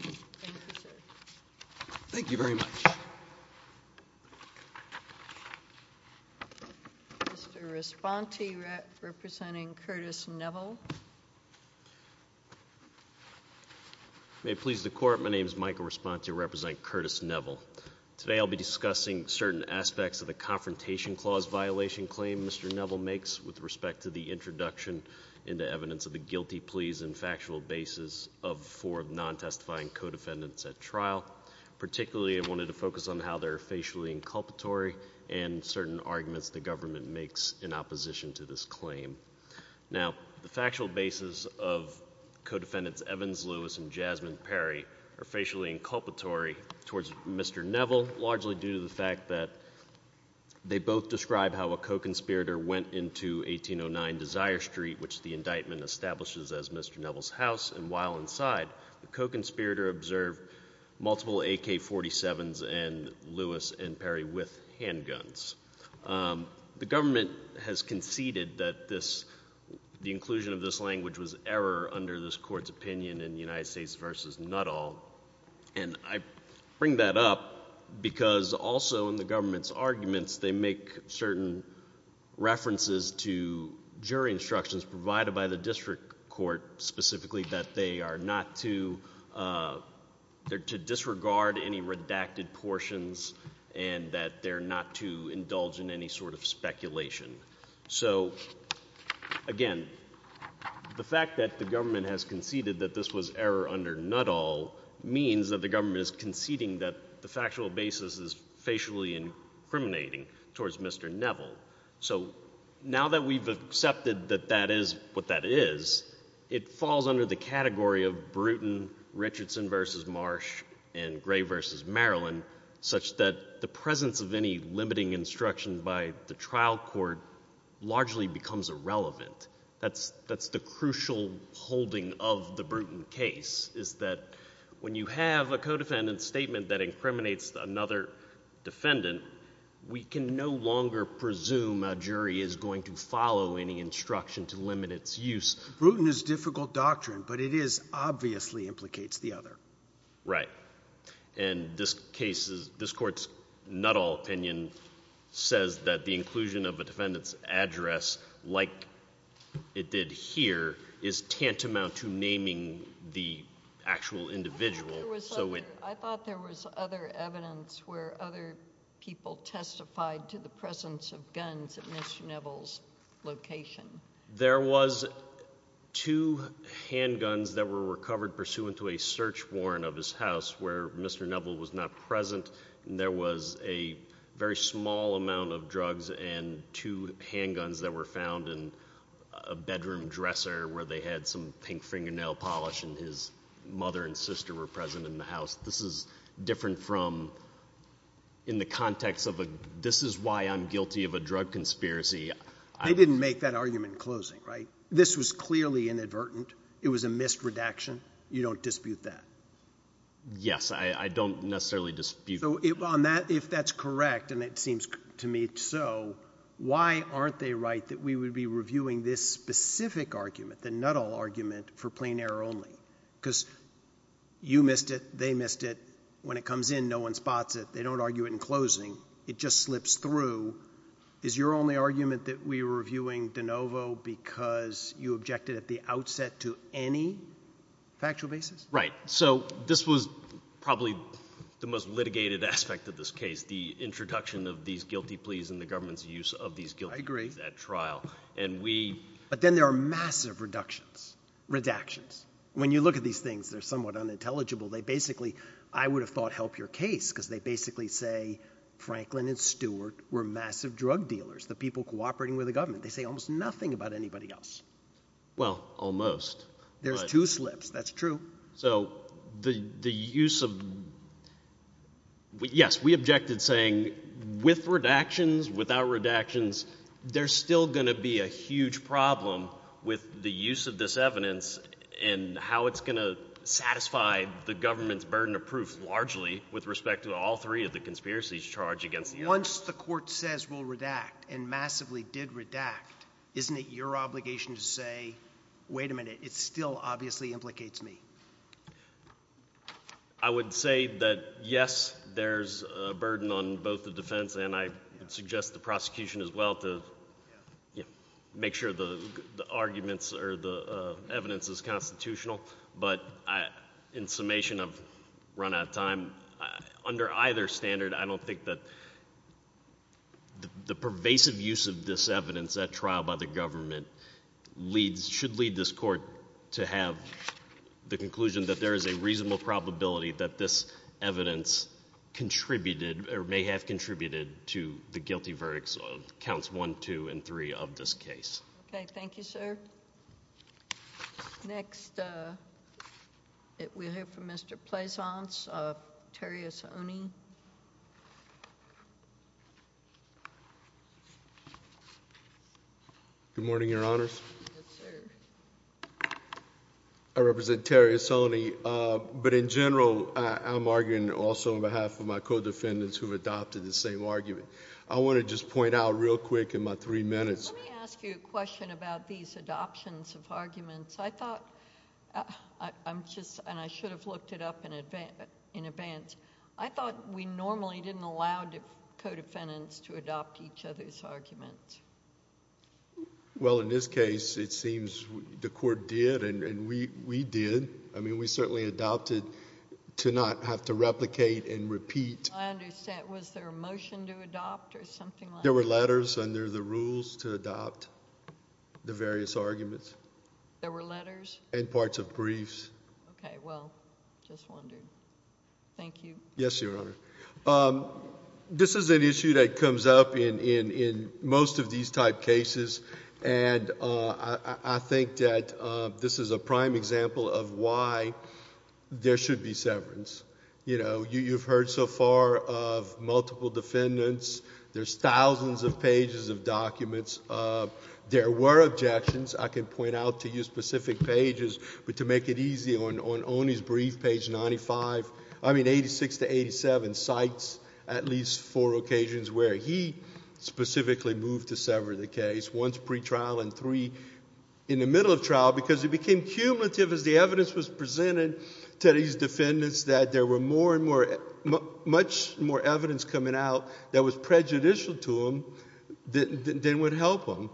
Thank you very much. Mr. Responsi representing Curtis Neville. May it please the court. My name is Michael Responsi representing Curtis Neville. Today I'll be discussing certain aspects of the confrontation clause violation claim Mr. Neville makes with respect to the introduction into evidence of the four of non-testifying co-defendants at trial, particularly I wanted to focus on how they're facially inculpatory and certain arguments the government makes in opposition to this claim. Now, the factual basis of co-defendants Evans, Lewis, and Jasmine Perry are facially inculpatory towards Mr. Neville, largely due to the fact that they both describe how a co-conspirator went into 1809 Desire Street, which the indictment establishes as Mr. Neville's side, the co-conspirator observed multiple AK-47s and Lewis and Perry with handguns. The government has conceded that this, the inclusion of this language was error under this court's opinion in United States versus Nuttall and I bring that up because also in the government's arguments, they make certain references to jury instructions provided by the district court specifically that they are not to disregard any redacted portions and that they're not to indulge in any sort of speculation. So again, the fact that the government has conceded that this was error under Nuttall means that the government is conceding that the factual basis is facially incriminating towards Mr. Neville. So now that we've accepted that that is what that is, it falls under the category of Bruton, Richardson versus Marsh, and Gray versus Maryland, such that the presence of any limiting instruction by the trial court largely becomes irrelevant. That's, that's the crucial holding of the Bruton case is that when you have a co-defendant statement that incriminates another defendant, we can no longer presume a jury is going to follow any instruction to limit its use. Bruton is difficult doctrine, but it is obviously implicates the other. Right. And this case is, this court's Nuttall opinion says that the inclusion of a defendant's address, like it did here, is tantamount to naming the actual individual. I thought there was other evidence where other people testified to the presence of guns at Mr. Neville's location. There was two handguns that were recovered pursuant to a search warrant of his house where Mr. Neville was not present. There was a very small amount of drugs and two handguns that were found in a bedroom dresser where they had some pink fingernail polish and his mother and sister were present in the house. This is different from in the context of a, this is why I'm guilty of a drug conspiracy. I didn't make that argument in closing, right? This was clearly inadvertent. It was a missed redaction. You don't dispute that. Yes, I don't necessarily dispute it on that if that's correct. And it seems to me, so why aren't they right? That we would be reviewing this specific argument, the Nuttall argument for plain error only because you missed it. They missed it when it comes in. No one spots it. They don't argue it in closing. It just slips through. Is your only argument that we were reviewing DeNovo because you objected at the outset to any factual basis? Right. So this was probably the most litigated aspect of this case. The introduction of these guilty pleas and the government's use of these guilt. I agree that trial and we, but then there are massive reductions, redactions. When you look at these things, they're somewhat unintelligible. They basically, I would have thought help your case because they basically say Franklin and Stewart were massive drug dealers, the people cooperating with the government. They say almost nothing about anybody else. Well, almost. There's two slips. That's true. So the, the use of, yes, we objected saying with redactions, without redactions, there's still going to be a huge problem with the use of this evidence and how it's going to satisfy the government's burden of proof largely with respect to all three of the conspiracies charged against you. Once the court says we'll redact and massively did redact, isn't it your obligation to say, wait a minute, it's still obviously implicates me. I would say that, yes, there's a burden on both the defense and I suggest the prosecution as well to make sure the arguments or the evidence is constitutional. But in summation of run out of time, under either standard, I don't think that the pervasive use of this evidence at trial by the government leads, should lead this court to have the conclusion that there is a reasonable probability that this evidence contributed or may have contributed to the guilty verdicts of counts one, two, and three of this case. Okay. Thank you, sir. Next, we'll hear from Mr. Plaisance of Terry Esonni. Good morning, Your Honors. I represent Terry Esonni, but in general, I'm arguing also on behalf of my co-defendants who've adopted the same argument. I want to just point out real quick in my three minutes. Let me ask you a question about these adoptions of arguments. I thought, I'm just, and I should have looked it up in advance, I thought we normally didn't allow co-defendants to adopt each other's arguments. Well, in this case, it seems the court did and we did. I mean, we certainly adopted to not have to replicate and repeat. I understand. Was there a motion to adopt or something like that? There were letters under the rules to adopt the various arguments. There were letters? And parts of briefs. Okay. Well, just wondering. Thank you. Yes, Your Honor. This is an issue that comes up in most of these type cases and I think that this is a prime example of why there should be severance. You know, you've heard so far of multiple defendants. There's thousands of pages of documents. There were objections. I can point out to you specific pages, but to make it easy on Oni's brief, page 95, I mean, 86 to 87, cites at least four occasions where he specifically moved to sever the case, one's pretrial and three in the middle of trial, because it became cumulative as the evidence was presented to these defendants that there were more and more, much more evidence coming out that was prejudicial to them than would help them.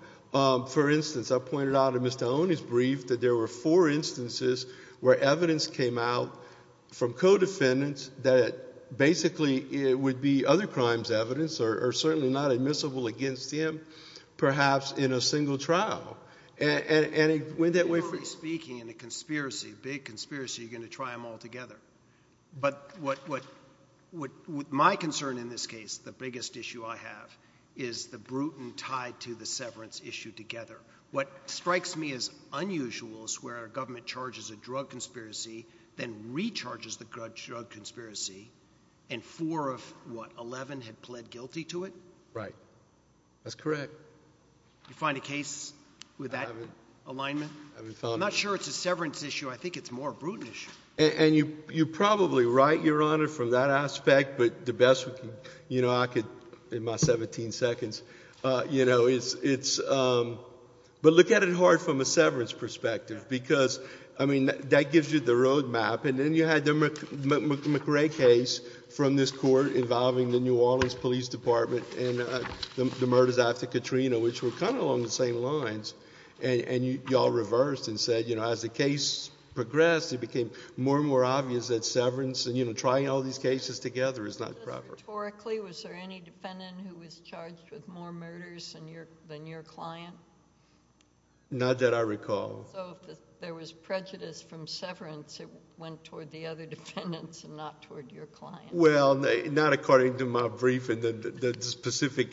For instance, I pointed out in Mr. Oni's brief that there were four instances where evidence came out from co-defendants that basically it would be other crimes evidence or certainly not admissible against him, perhaps in a single trial. And it went that way. You're already speaking in a conspiracy, big conspiracy. You're going to try them all together. But what, what would my concern in this case, the biggest issue I have is the Bruton tied to the severance issue together. What strikes me as unusual is where our government charges a drug conspiracy, then recharges the drug drug conspiracy. And four of what 11 had pled guilty to it. Right. That's correct. You find a case with that alignment, I'm not sure it's a severance issue. I think it's more Bruton issue. And you, you're probably right, Your Honor, from that aspect, but the best, you know, I could in my 17 seconds, you know, it's, it's but look at it hard from a severance perspective, because I mean, that gives you the roadmap. And then you had the McRae case from this court involving the New Orleans police department and the murder of Dr. Katrina, which were kind of along the same lines. And y'all reversed and said, you know, as the case progressed, it became more and more obvious that severance and, you know, trying all these cases together is not proper. Historically, was there any defendant who was charged with more murders than your, than your client? Not that I recall. So if there was prejudice from severance, it went toward the other defendants and not toward your client. Well, not according to my brief and the specific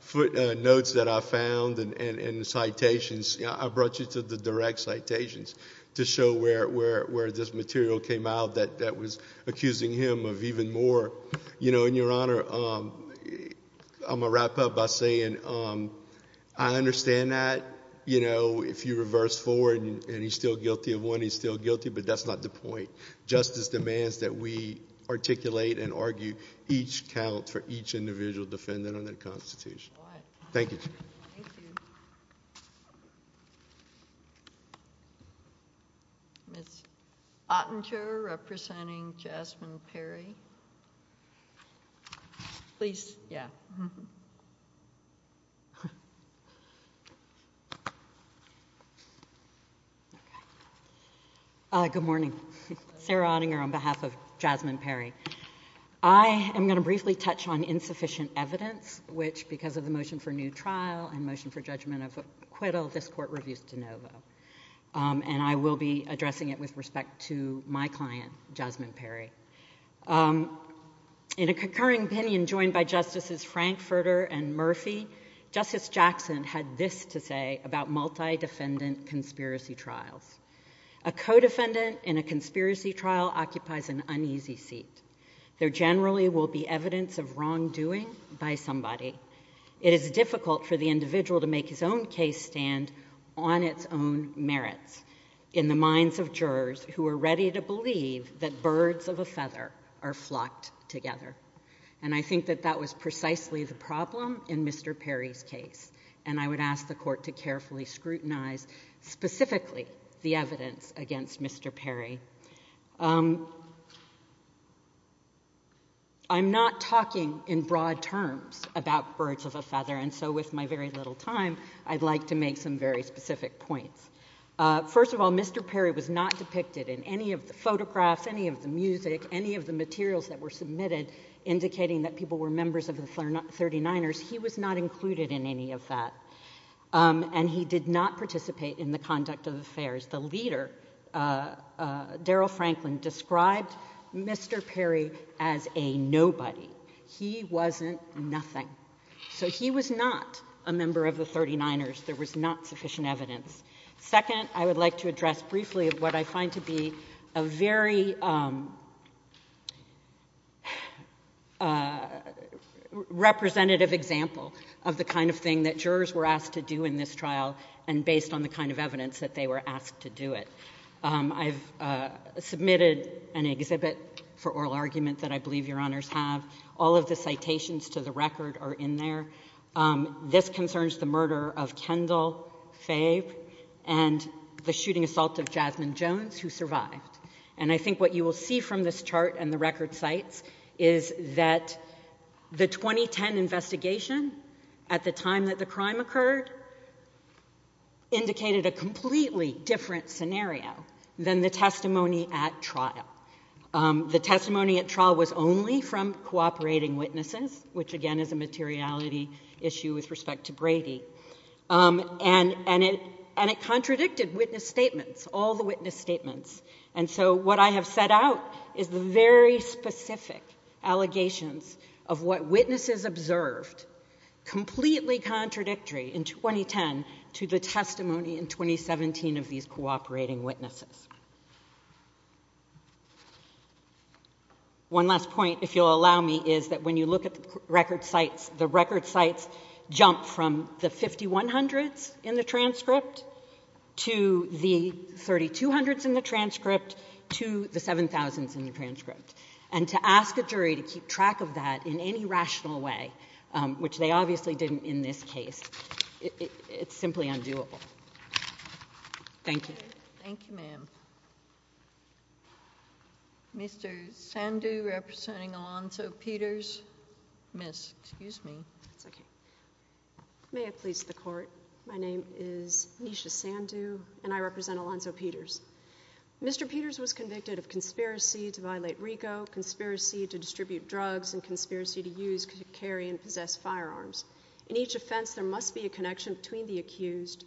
footnotes that I found and the direct citations to show where, where, where this material came out that, that was accusing him of even more, you know, and Your Honor, I'm gonna wrap up by saying, I understand that, you know, if you reverse forward and he's still guilty of one, he's still guilty, but that's not the point. Justice demands that we articulate and argue each count for each individual defendant under the Constitution. Thank you. Ms. Ottinger representing Jasmine Perry. Please. Yeah. Hi, good morning. Sarah Ottinger on behalf of Jasmine Perry. I am going to briefly touch on insufficient evidence, which because of the motion for Novo, and I will be addressing it with respect to my client, Jasmine Perry. In a concurring opinion joined by Justices Frankfurter and Murphy, Justice Jackson had this to say about multi-defendant conspiracy trials. A co-defendant in a conspiracy trial occupies an uneasy seat. There generally will be evidence of wrongdoing by somebody. It is difficult for the individual to make his own case stand on its own merits in the minds of jurors who are ready to believe that birds of a feather are flocked together, and I think that that was precisely the problem in Mr. Perry's case, and I would ask the court to carefully scrutinize specifically the evidence against Mr. Perry. I'm not talking in broad terms about birds of a feather, and so with my very little time, I'd like to make some very specific points. First of all, Mr. Perry was not depicted in any of the photographs, any of the music, any of the materials that were submitted indicating that people were members of the 39ers. He was not included in any of that, and he did not participate in the conduct of the trial. So I would like to make a very specific point about that, and that is, first of all, Daryl Franklin described Mr. Perry as a nobody, he wasn't nothing, so he was not a member of the 39ers, there was not sufficient evidence. Second, I would like to address briefly what I find to be a very representative example of the kind of thing that jurors were asked to do in this trial, and based on the kind of evidence that they were asked to do it. I've submitted an exhibit for oral argument that I believe Your Honors have, all of the citations to the record are in there. This concerns the murder of Kendall Fave and the shooting assault of Jasmine Jones, who survived. And I think what you will see from this chart and the record sites is that the 2010 investigation, at the time that the crime occurred, indicated a completely different scenario than the testimony at trial. The testimony at trial was only from cooperating witnesses, which again is a materiality issue with respect to Brady, and it contradicted witness statements, all the witness statements. And so what I have set out is very specific allegations of what witnesses observed, completely contradictory in 2010 to the testimony in 2017 of these cooperating witnesses. One last point, if you'll allow me, is that when you look at the record sites, the transcript to the 7,000th in the transcript, and to ask the jury to keep track of that in any rational way, which they obviously didn't in this case, it's simply undoable. Thank you. Thank you, ma'am. Mr. Sandhu representing Alonzo Peters. Miss, excuse me. May I please report? My name is Nisha Sandhu, and I represent Alonzo Peters. Mr. Peters was convicted of conspiracy to violate RICO, conspiracy to distribute drugs, and conspiracy to use, carry, and possess firearms. In each offense, there must be a connection between the accused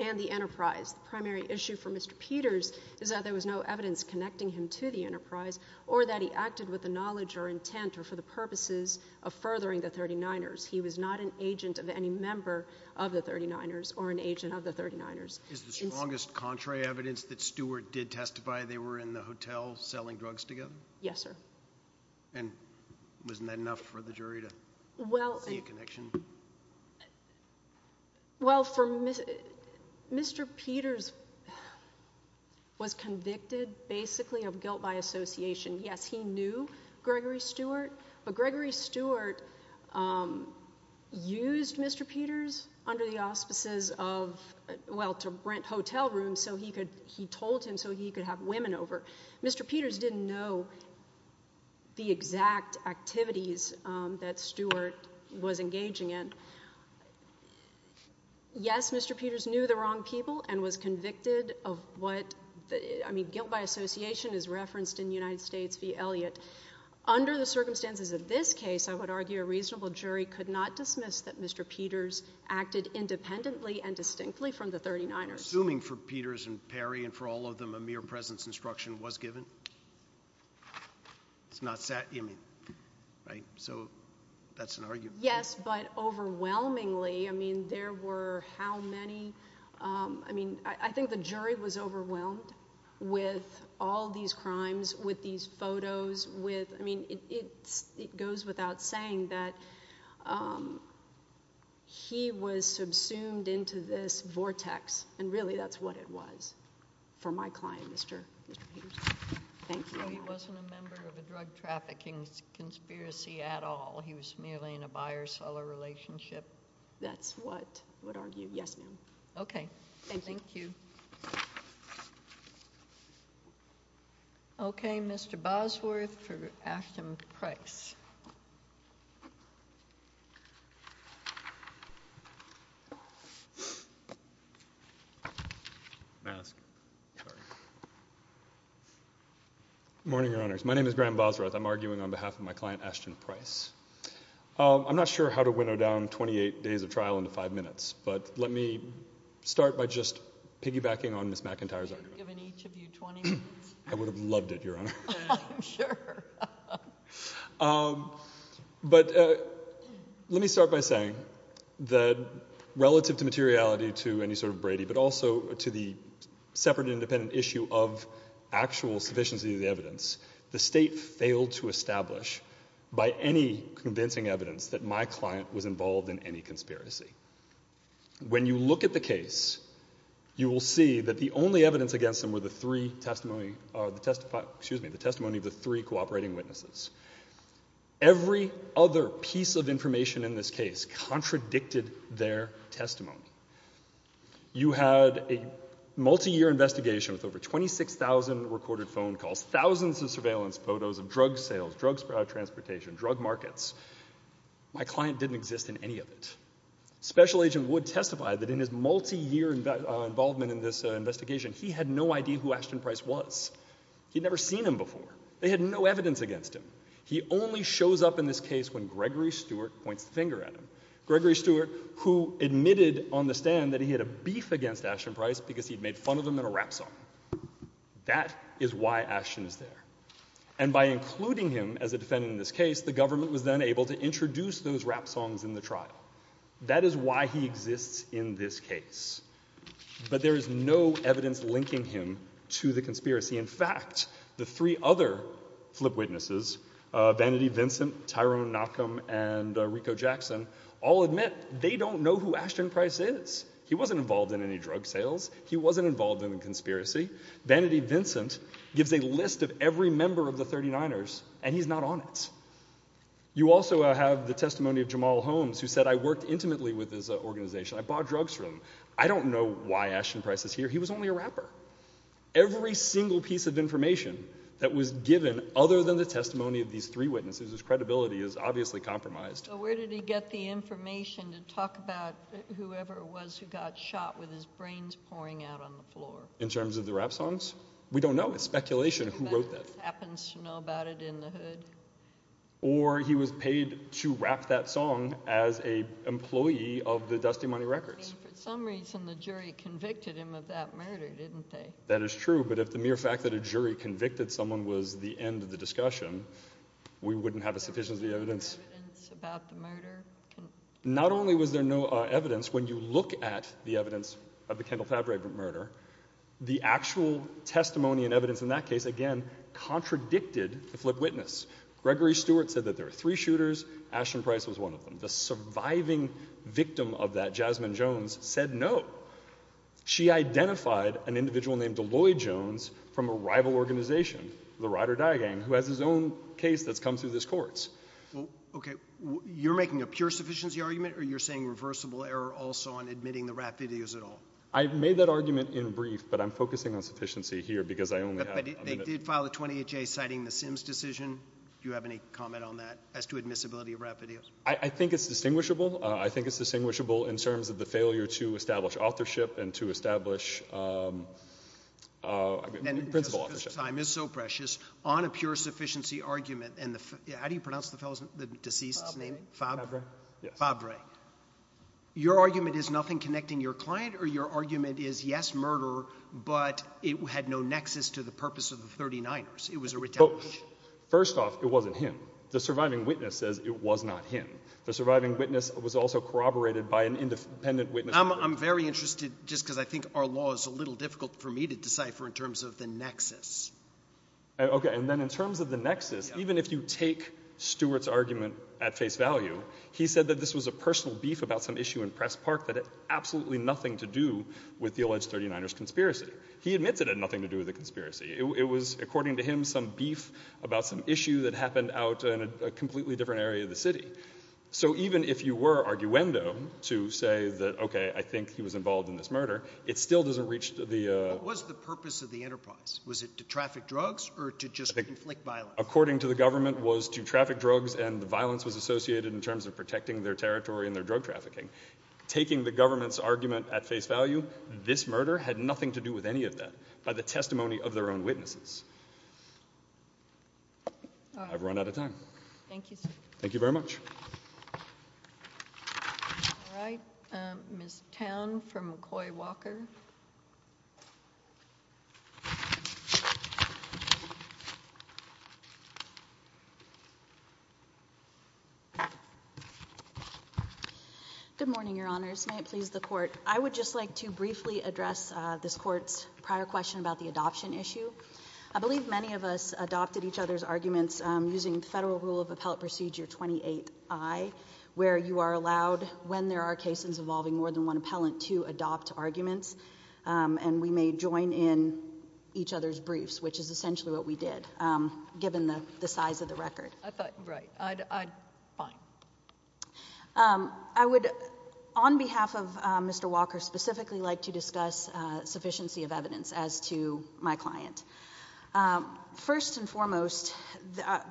and the enterprise. Primary issue for Mr. Peters is that there was no evidence connecting him to the enterprise, or that he acted with the knowledge or intent or for the purposes of furthering the 39ers. He was not an agent of any member of the 39ers or an agent of the 39ers. Is the strongest contrary evidence that Stewart did testify they were in the hotel selling drugs together? Yes, sir. And wasn't that enough for the jury to make a connection? Well, Mr. Peters was convicted basically of guilt by association. Yes, he knew Gregory Stewart, but Gregory Stewart used Mr. Peters under the auspices of, well, to rent hotel rooms so he could, he told him so he could have women over. Mr. Peters didn't know the exact activities that Stewart was engaging in. Yes, Mr. Peters knew the wrong people and was convicted of what, I mean, guilt by association is referenced in United States v. Elliott. Under the circumstances of this case, I would argue a reasonable jury could not dismiss that Mr. Peters acted independently and distinctly from the 39ers. Assuming for Peters and Perry and for all of them, a mere presence instruction was given? It's not sat, I mean, so that's an argument. Yes, but overwhelmingly, I mean, there were how many, I mean, I think the jury was overwhelmed with all these crimes, with these photos, with, I mean, it goes without saying that he was subsumed into this vortex and really that's what it was for my client, Mr. Peters. Thank you. He wasn't a member of a drug trafficking conspiracy at all. He was merely in a buyer-seller relationship. That's what I would argue. Yes, ma'am. Okay. Thank you. Okay. Mr. Bosworth for Ashton Price. Good morning, your honors. My name is Graham Bosworth. I'm arguing on behalf of my client, Ashton Price. I'm not sure how to winnow down 28 days of trial into five minutes, but let me start by just piggybacking on Ms. McIntyre's argument. Given each of you 20 minutes. I would have loved it, your honor. Sure. But let me start by saying that relative to materiality to any sort of Brady, but also to the separate independent issue of actual sufficiency of the evidence, the state failed to establish by any convincing evidence that my client was involved in any conspiracy. When you look at the case, you will see that the only evidence against them were the three testimony, excuse me, the testimony of the three cooperating witnesses. Every other piece of information in this case contradicted their testimony. You had a multi-year investigation with over 26,000 recorded phone calls, thousands of surveillance photos of drug sales, drugs, transportation, drug markets. My client didn't exist in any of it. Special agent would testify that in his multi-year involvement in this investigation, he had no idea who Ashton Price was. He'd never seen him before. They had no evidence against him. He only shows up in this case when Gregory Stewart point finger at him. Gregory Stewart, who admitted on the stand that he had a beef against Ashton Price because he'd made fun of him in a rap song. That is why Ashton is there. And by including him as a defendant in this case, the government was then able to introduce those rap songs in the trial. That is why he exists in this case. But there is no evidence linking him to the conspiracy. In fact, the three other flip witnesses, Vanity, Vincent, Tyrone, Nakum and Rico Jackson, all admit they don't know who Ashton Price is. He wasn't involved in any drug sales. He wasn't involved in a conspiracy. Vanity, Vincent gives a list of every member of the 39ers and he's not on it. You also have the testimony of Jamal Holmes, who said, I worked intimately with his organization. I bought drugs from him. I don't know why Ashton Price is here. He was only a rapper. Every single piece of information that was given, other than the testimony of these three witnesses, his credibility is obviously compromised. Where did he get the information to talk about whoever it was who got shot with his brains pouring out on the floor? In terms of the rap songs? We don't know. It's speculation. Who wrote that? Happens to know about it in the hood. Or he was paid to rap that song as a employee of the Dusty Money Records. For some reason, the jury convicted him of that murder, didn't they? That is true. But if the mere fact that a jury convicted someone was the end of the discussion, we wouldn't have a sufficient evidence about the murder. Not only was there no evidence, when you look at the evidence of the Kendall Fabregant murder, the actual testimony and evidence in that case, again, contradicted the flip witness. Gregory Stewart said that there are three shooters. Ashton Price was one of them. The surviving victim of that, Jasmine Jones, said no. She identified an individual named Deloitte Jones from a rival organization, the Ryder Diagang, who has his own case that's come through this course. OK, you're making a pure sufficiency argument or you're saying reversible error also on admitting the rap videos at all? I've made that argument in brief, but I'm focusing on sufficiency here because I only have a minute. They filed a 20th J, citing the Sims decision. Do you have any comment on that as to admissibility of rap videos? I think it's distinguishable. I think it's distinguishable in terms of the failure to establish authorship and to establish. Time is so precious on a pure sufficiency argument. And how do you pronounce the deceased's name, Fabregant? Your argument is nothing connecting your client or your argument is, yes, murder, but it had no nexus to the purpose of the 39ers. It was a rejection. First off, it wasn't him. The surviving witness says it was not him. The surviving witness was also corroborated by an independent witness. I'm very interested just because I think our law is a little difficult for me to decipher in terms of the nexus. OK, and then in terms of the nexus, even if you take Stewart's argument at face value, he said that this was a personal beef about some issue in Press Park that had absolutely nothing to do with the alleged 39ers conspiracy. He admitted it had nothing to do with the conspiracy. It was, according to him, some beef about some issue that happened out in a completely different area of the city. So even if you were arguendo to say that, OK, I think he was involved in this murder, it still doesn't reach the... What was the purpose of the interpose? Was it to traffic drugs or to just inflict violence? According to the government, it was to traffic drugs and the violence was associated in terms of protecting their territory and their drug trafficking. Taking the government's argument at face value, this murder had nothing to do with any of that by the testimony of their own witnesses. I've run out of time. Thank you. Thank you very much. All right, Ms. Tan from McCoy Walker. Good morning, Your Honors, and I plead with the court. I would just like to briefly address this court's prior question about the adoption issue. I believe many of us adopted each other's arguments using Federal Rule of Appellate Procedure 28I, where you are allowed, when there are cases involving more than one appellant, to adopt arguments and we may join in each other's briefs, which is essentially what we did, given the size of the record. I thought, right, fine. I would, on behalf of Mr. Walker specifically, like to discuss sufficiency of evidence as to my client. First and foremost,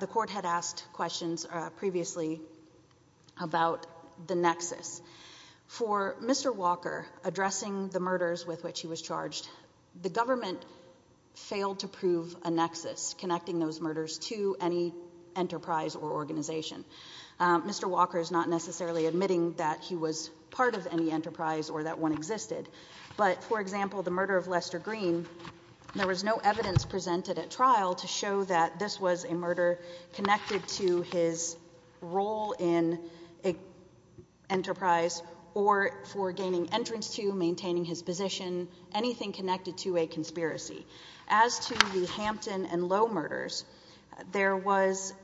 the court had asked questions previously about the nexus. For Mr. Walker, addressing the murders with which he was charged, the government failed to prove a nexus connecting those murders to any enterprise or organization. Mr. Walker is not necessarily admitting that he was part of any enterprise or that one existed. But, for example, the murder of Lester Green, there was no evidence presented at trial to show that this was a murder connected to his role in an enterprise or for gaining entrance to, maintaining his position, anything connected to a conspiracy. As to the Hampton and Lowe murders, there was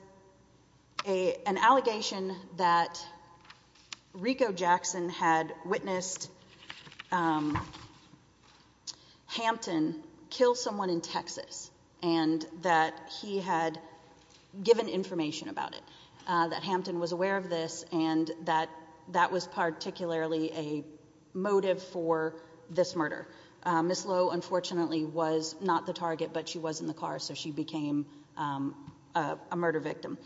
an allegation that Rico Jackson had witnessed Hampton kill someone in Texas and that he had given information about it, that Hampton was aware of this and that that was particularly a motive for this murder. Ms. Lowe, unfortunately, was not the target, but she was in the car, so she became a murder victim.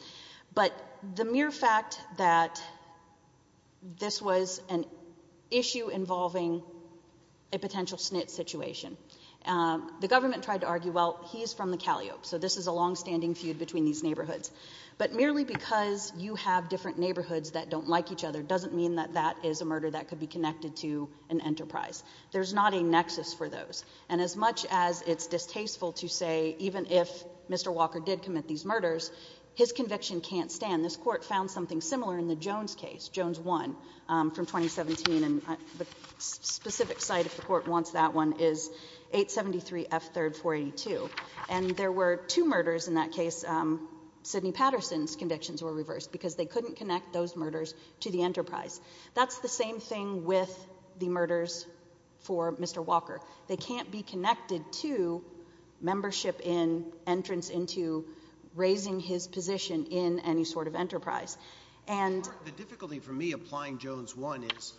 But the mere fact that this was an issue involving a potential snit situation, the government tried to argue, well, he is from the Calio, so this is a longstanding feud between these neighborhoods. But merely because you have different neighborhoods that don't like each other doesn't mean that that is a murder that could be connected to an enterprise. There's not a nexus for those. And as much as it's distasteful to say, even if Mr. Walker did commit these murders, his conviction can't stand. This court found something similar in the Jones case, Jones 1 from 2017, and the specific site if the court wants that one is 873 F 3rd 482. And there were two murders in that case, Sidney Patterson's convictions were reversed because they couldn't connect those murders to the enterprise. That's the same thing with the murders for Mr. Walker. They can't be connected to membership in entrance into raising his position in any sort of enterprise. And the difficulty for me applying Jones 1 is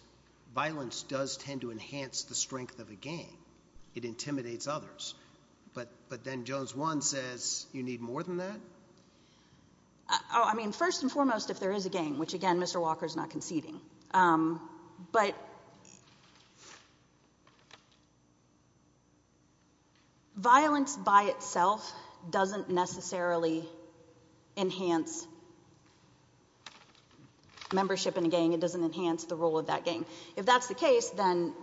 violence does tend to enhance the strength of the game. It intimidates others. But then Jones 1 says you need more than that. Oh, I mean, first and foremost, if there is a game, which, again, Mr. Walker is not a game, but violence by itself doesn't necessarily enhance membership in a game. It doesn't enhance the role of that game. If that's the case, then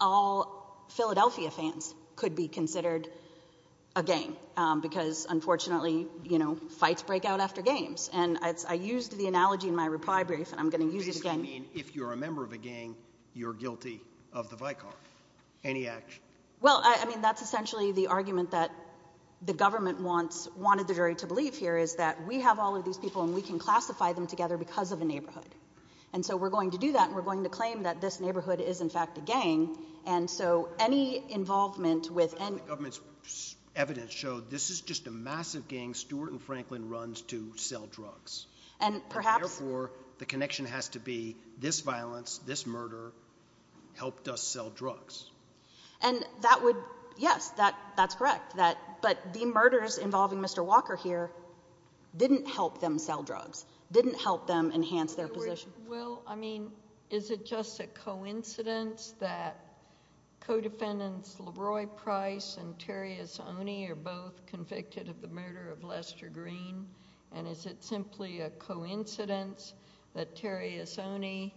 all Philadelphia fans could be considered a game because, unfortunately, you know, fights break out after games. And I used the analogy in my reply brief. And I'm going to use it again. If you're a member of a gang, you're guilty of the Vicar. Any action? Well, I mean, that's essentially the argument that the government wants, wanted the jury to believe here is that we have all of these people and we can classify them together because of the neighborhood. And so we're going to do that. We're going to claim that this neighborhood is, in fact, a gang. And so any involvement with and government's evidence showed this is just a massive gang and Stuart and Franklin runs to sell drugs. And, therefore, the connection has to be this violence, this murder helped us sell drugs. And that would, yes, that's correct. But the murders involving Mr. Walker here didn't help them sell drugs, didn't help them enhance their position. Well, I mean, is it just a coincidence that co-defendants LeBroy Price and Terry Isoni are both convicted of the murder of Lester Green? And is it simply a coincidence that Terry Isoni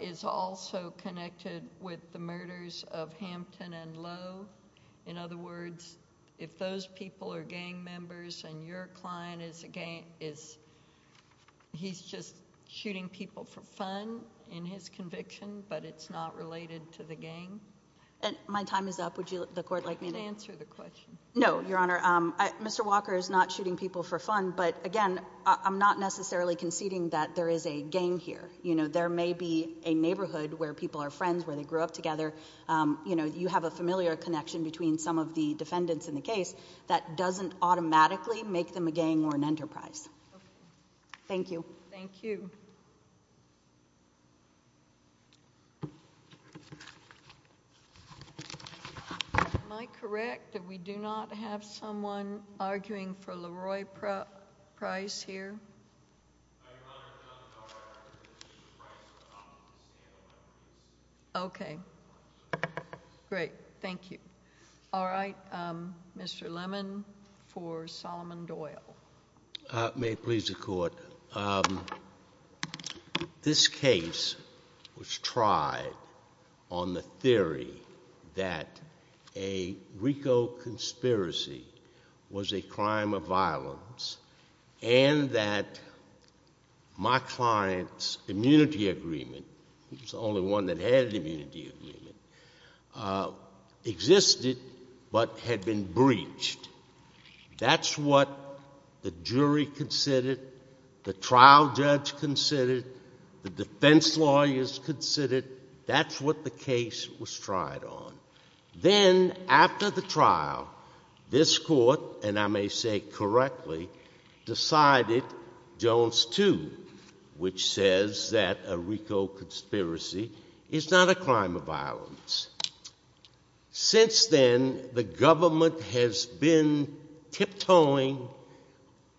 is also connected with the murders of Hampton and Lowe? In other words, if those people are gang members and your client is a gang, is he's just shooting people for fun in his conviction, but it's not related to the gang? And my time is up. Would you, the court, like me to answer the question? No, Your Honor. Mr. Walker is not shooting people for fun. But, again, I'm not necessarily conceding that there is a gang here. You know, there may be a neighborhood where people are friends, where they grew up together. You know, you have a familiar connection between some of the defendants in the case that doesn't automatically make them a gang or an enterprise. Thank you. Thank you. Am I correct that we do not have someone arguing for LeBroy Price here? Okay. Great. Thank you. All right. Mr. Lemon for Solomon Doyle. May it please the court. Well, this case was tried on the theory that a RICO conspiracy was a crime of violence and that Mark Fine's immunity agreement, which is the only one that has an immunity agreement, existed but had been breached. That's what the jury considered, the trial judge considered, the defense lawyers considered. That's what the case was tried on. Then, after the trial, this court, and I may say correctly, decided Jones 2, which says that a RICO conspiracy is not a crime of violence. Since then, the government has been tiptoeing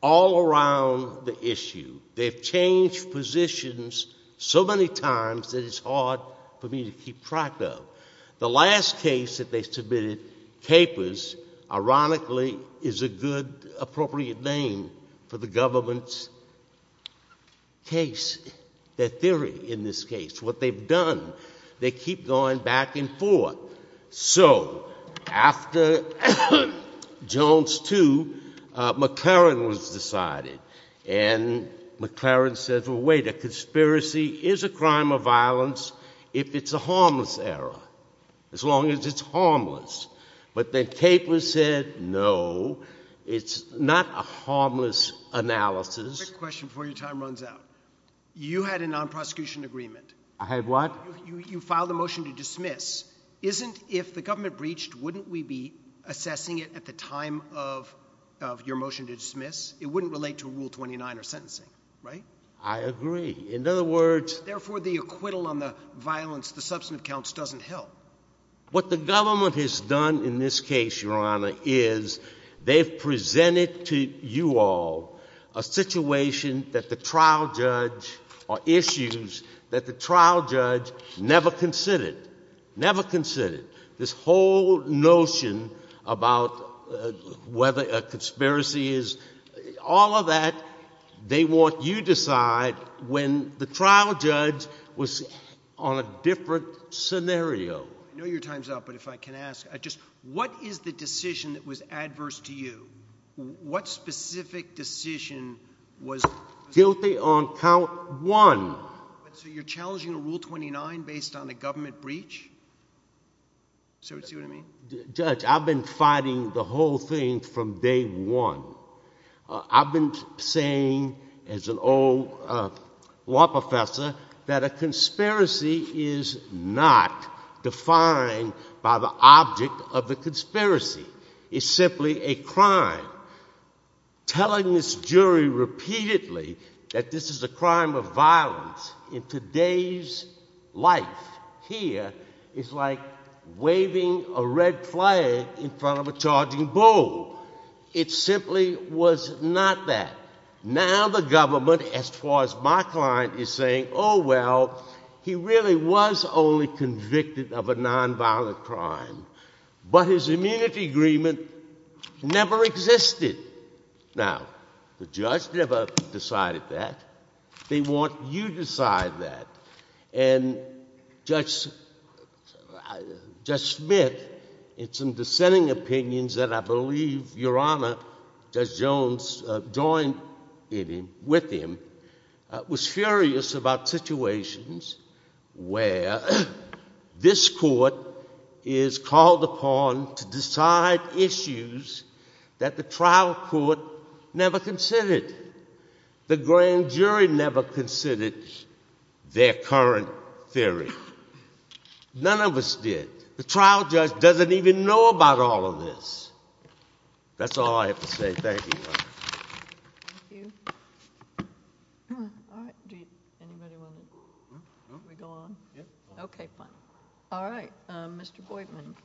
all around the issue. They've changed positions so many times that it's hard for me to keep track of. The last case that they submitted, Capers, ironically, is a good, appropriate name for the government's case, their theory in this case, what they've done. They keep going back and forth. So, after Jones 2, McLaren was decided. And McLaren said, well, wait, a conspiracy is a crime of violence if it's a harmless error, as long as it's harmless. But then Capers said, no, it's not a harmless analysis. Quick question before your time runs out. You had a non-prosecution agreement. I had what? You filed a motion to dismiss. Isn't, if the government breached, wouldn't we be assessing it at the time of your motion to dismiss? It wouldn't relate to Rule 29 or sentencing, right? I agree. In other words— Therefore, the acquittal on the violence, the substantive counts doesn't help. What the government has done in this case, Your Honor, is they've presented to you all a situation that the trial judge—or issues that the trial judge never considered. Never considered. This whole notion about whether a conspiracy is—all of that, they want you to decide when the trial judge was on a different scenario. I know your time's up, but if I can ask, just what is the decision that was adverse to you? What specific decision was— Guilty on count one. So you're challenging Rule 29 based on a government breach? Sir, see what I mean? Judge, I've been fighting the whole thing from day one. I've been saying, as an old law professor, that a conspiracy is not defined by the object of the conspiracy. It's simply a crime. Telling this jury repeatedly that this is a crime of violence in today's life here is like waving a red flag in front of a charging bull. It simply was not that. Now the government, as far as my client is saying, oh well, he really was only convicted of a nonviolent crime. But his immunity agreement never existed. Now, the judge never decided that. They want you to decide that. And Judge Smith, in some dissenting opinions that I believe your Honor, Judge Jones joined with him, was furious about situations where this court is called upon to decide issues that the trial court never considered. The grand jury never considered their current theory. None of us did. The trial judge doesn't even know about all of this. That's all I have to say. Thank you. All right, Mr. Boydman.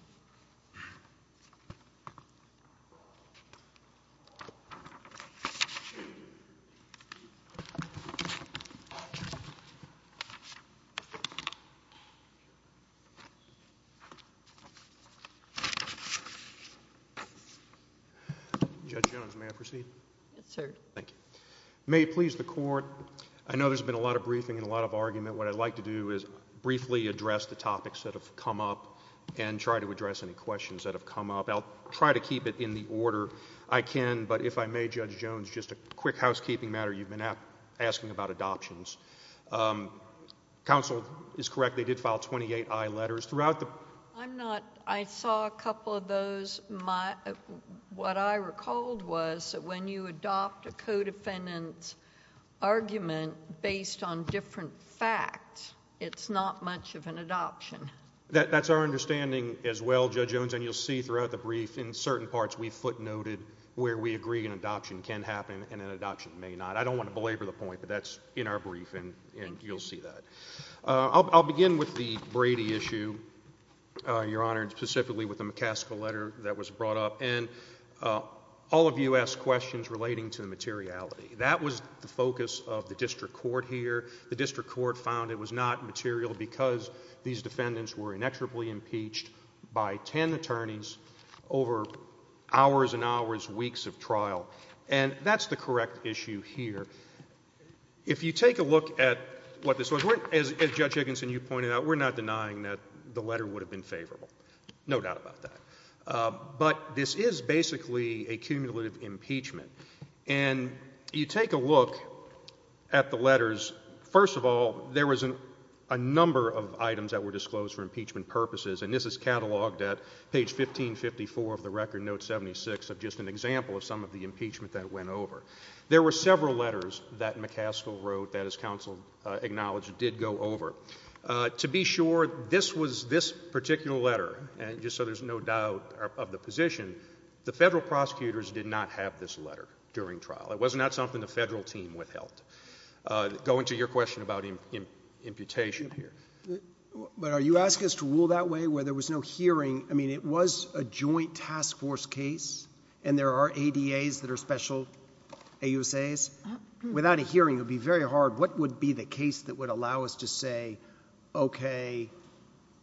Judge Jones, may I proceed? Yes, sir. May it please the court. I know there's been a lot of briefing and a lot of argument. What I'd like to do is briefly address the topics that have come up and try to address any questions that have come up. I'll try to keep it in the order I can. But if I may, Judge Jones, just a quick housekeeping matter. You've been asking about adoptions. Counsel is correct. They did file 28I letters. I saw a couple of those. My, what I recalled was that when you adopt a co-defendant's argument based on different facts, it's not much of an adoption. That's our understanding as well, Judge Jones. And you'll see throughout the brief, in certain parts, we footnoted where we agree an adoption can happen and an adoption may not. I don't want to belabor the point, but that's in our briefing, and you'll see that. I'll begin with the Brady issue, Your Honor, and specifically with the McCaskill letter that was brought up. And all of you asked questions relating to materiality. That was the focus of the district court here. The district court found it was not material because these defendants were inexorably impeached by 10 attorneys over hours and hours, weeks of trial. And that's the correct issue here. If you take a look at what this was, as Judge Higginson, you pointed out, we're not denying that the letter would have been favorable. No doubt about that. But this is basically a cumulative impeachment. And you take a look at the letters. First of all, there was a number of items that were disclosed for impeachment purposes, and this is cataloged at page 1554 of the record, note 76, of just an example of some of the impeachment that went over. There were several letters that McCaskill wrote that, as counsel acknowledged, did go over. To be sure, this was this particular letter, and just so there's no doubt of the position, the federal prosecutors did not have this letter during trial. It was not something the federal team withheld. Going to your question about imputation here. But are you asking us to rule that way, where there was no hearing? I mean, it was a joint task force case, and there are ADAs that are special AUSAs. Without a hearing, it would be very hard. What would be the case that would allow us to say, okay,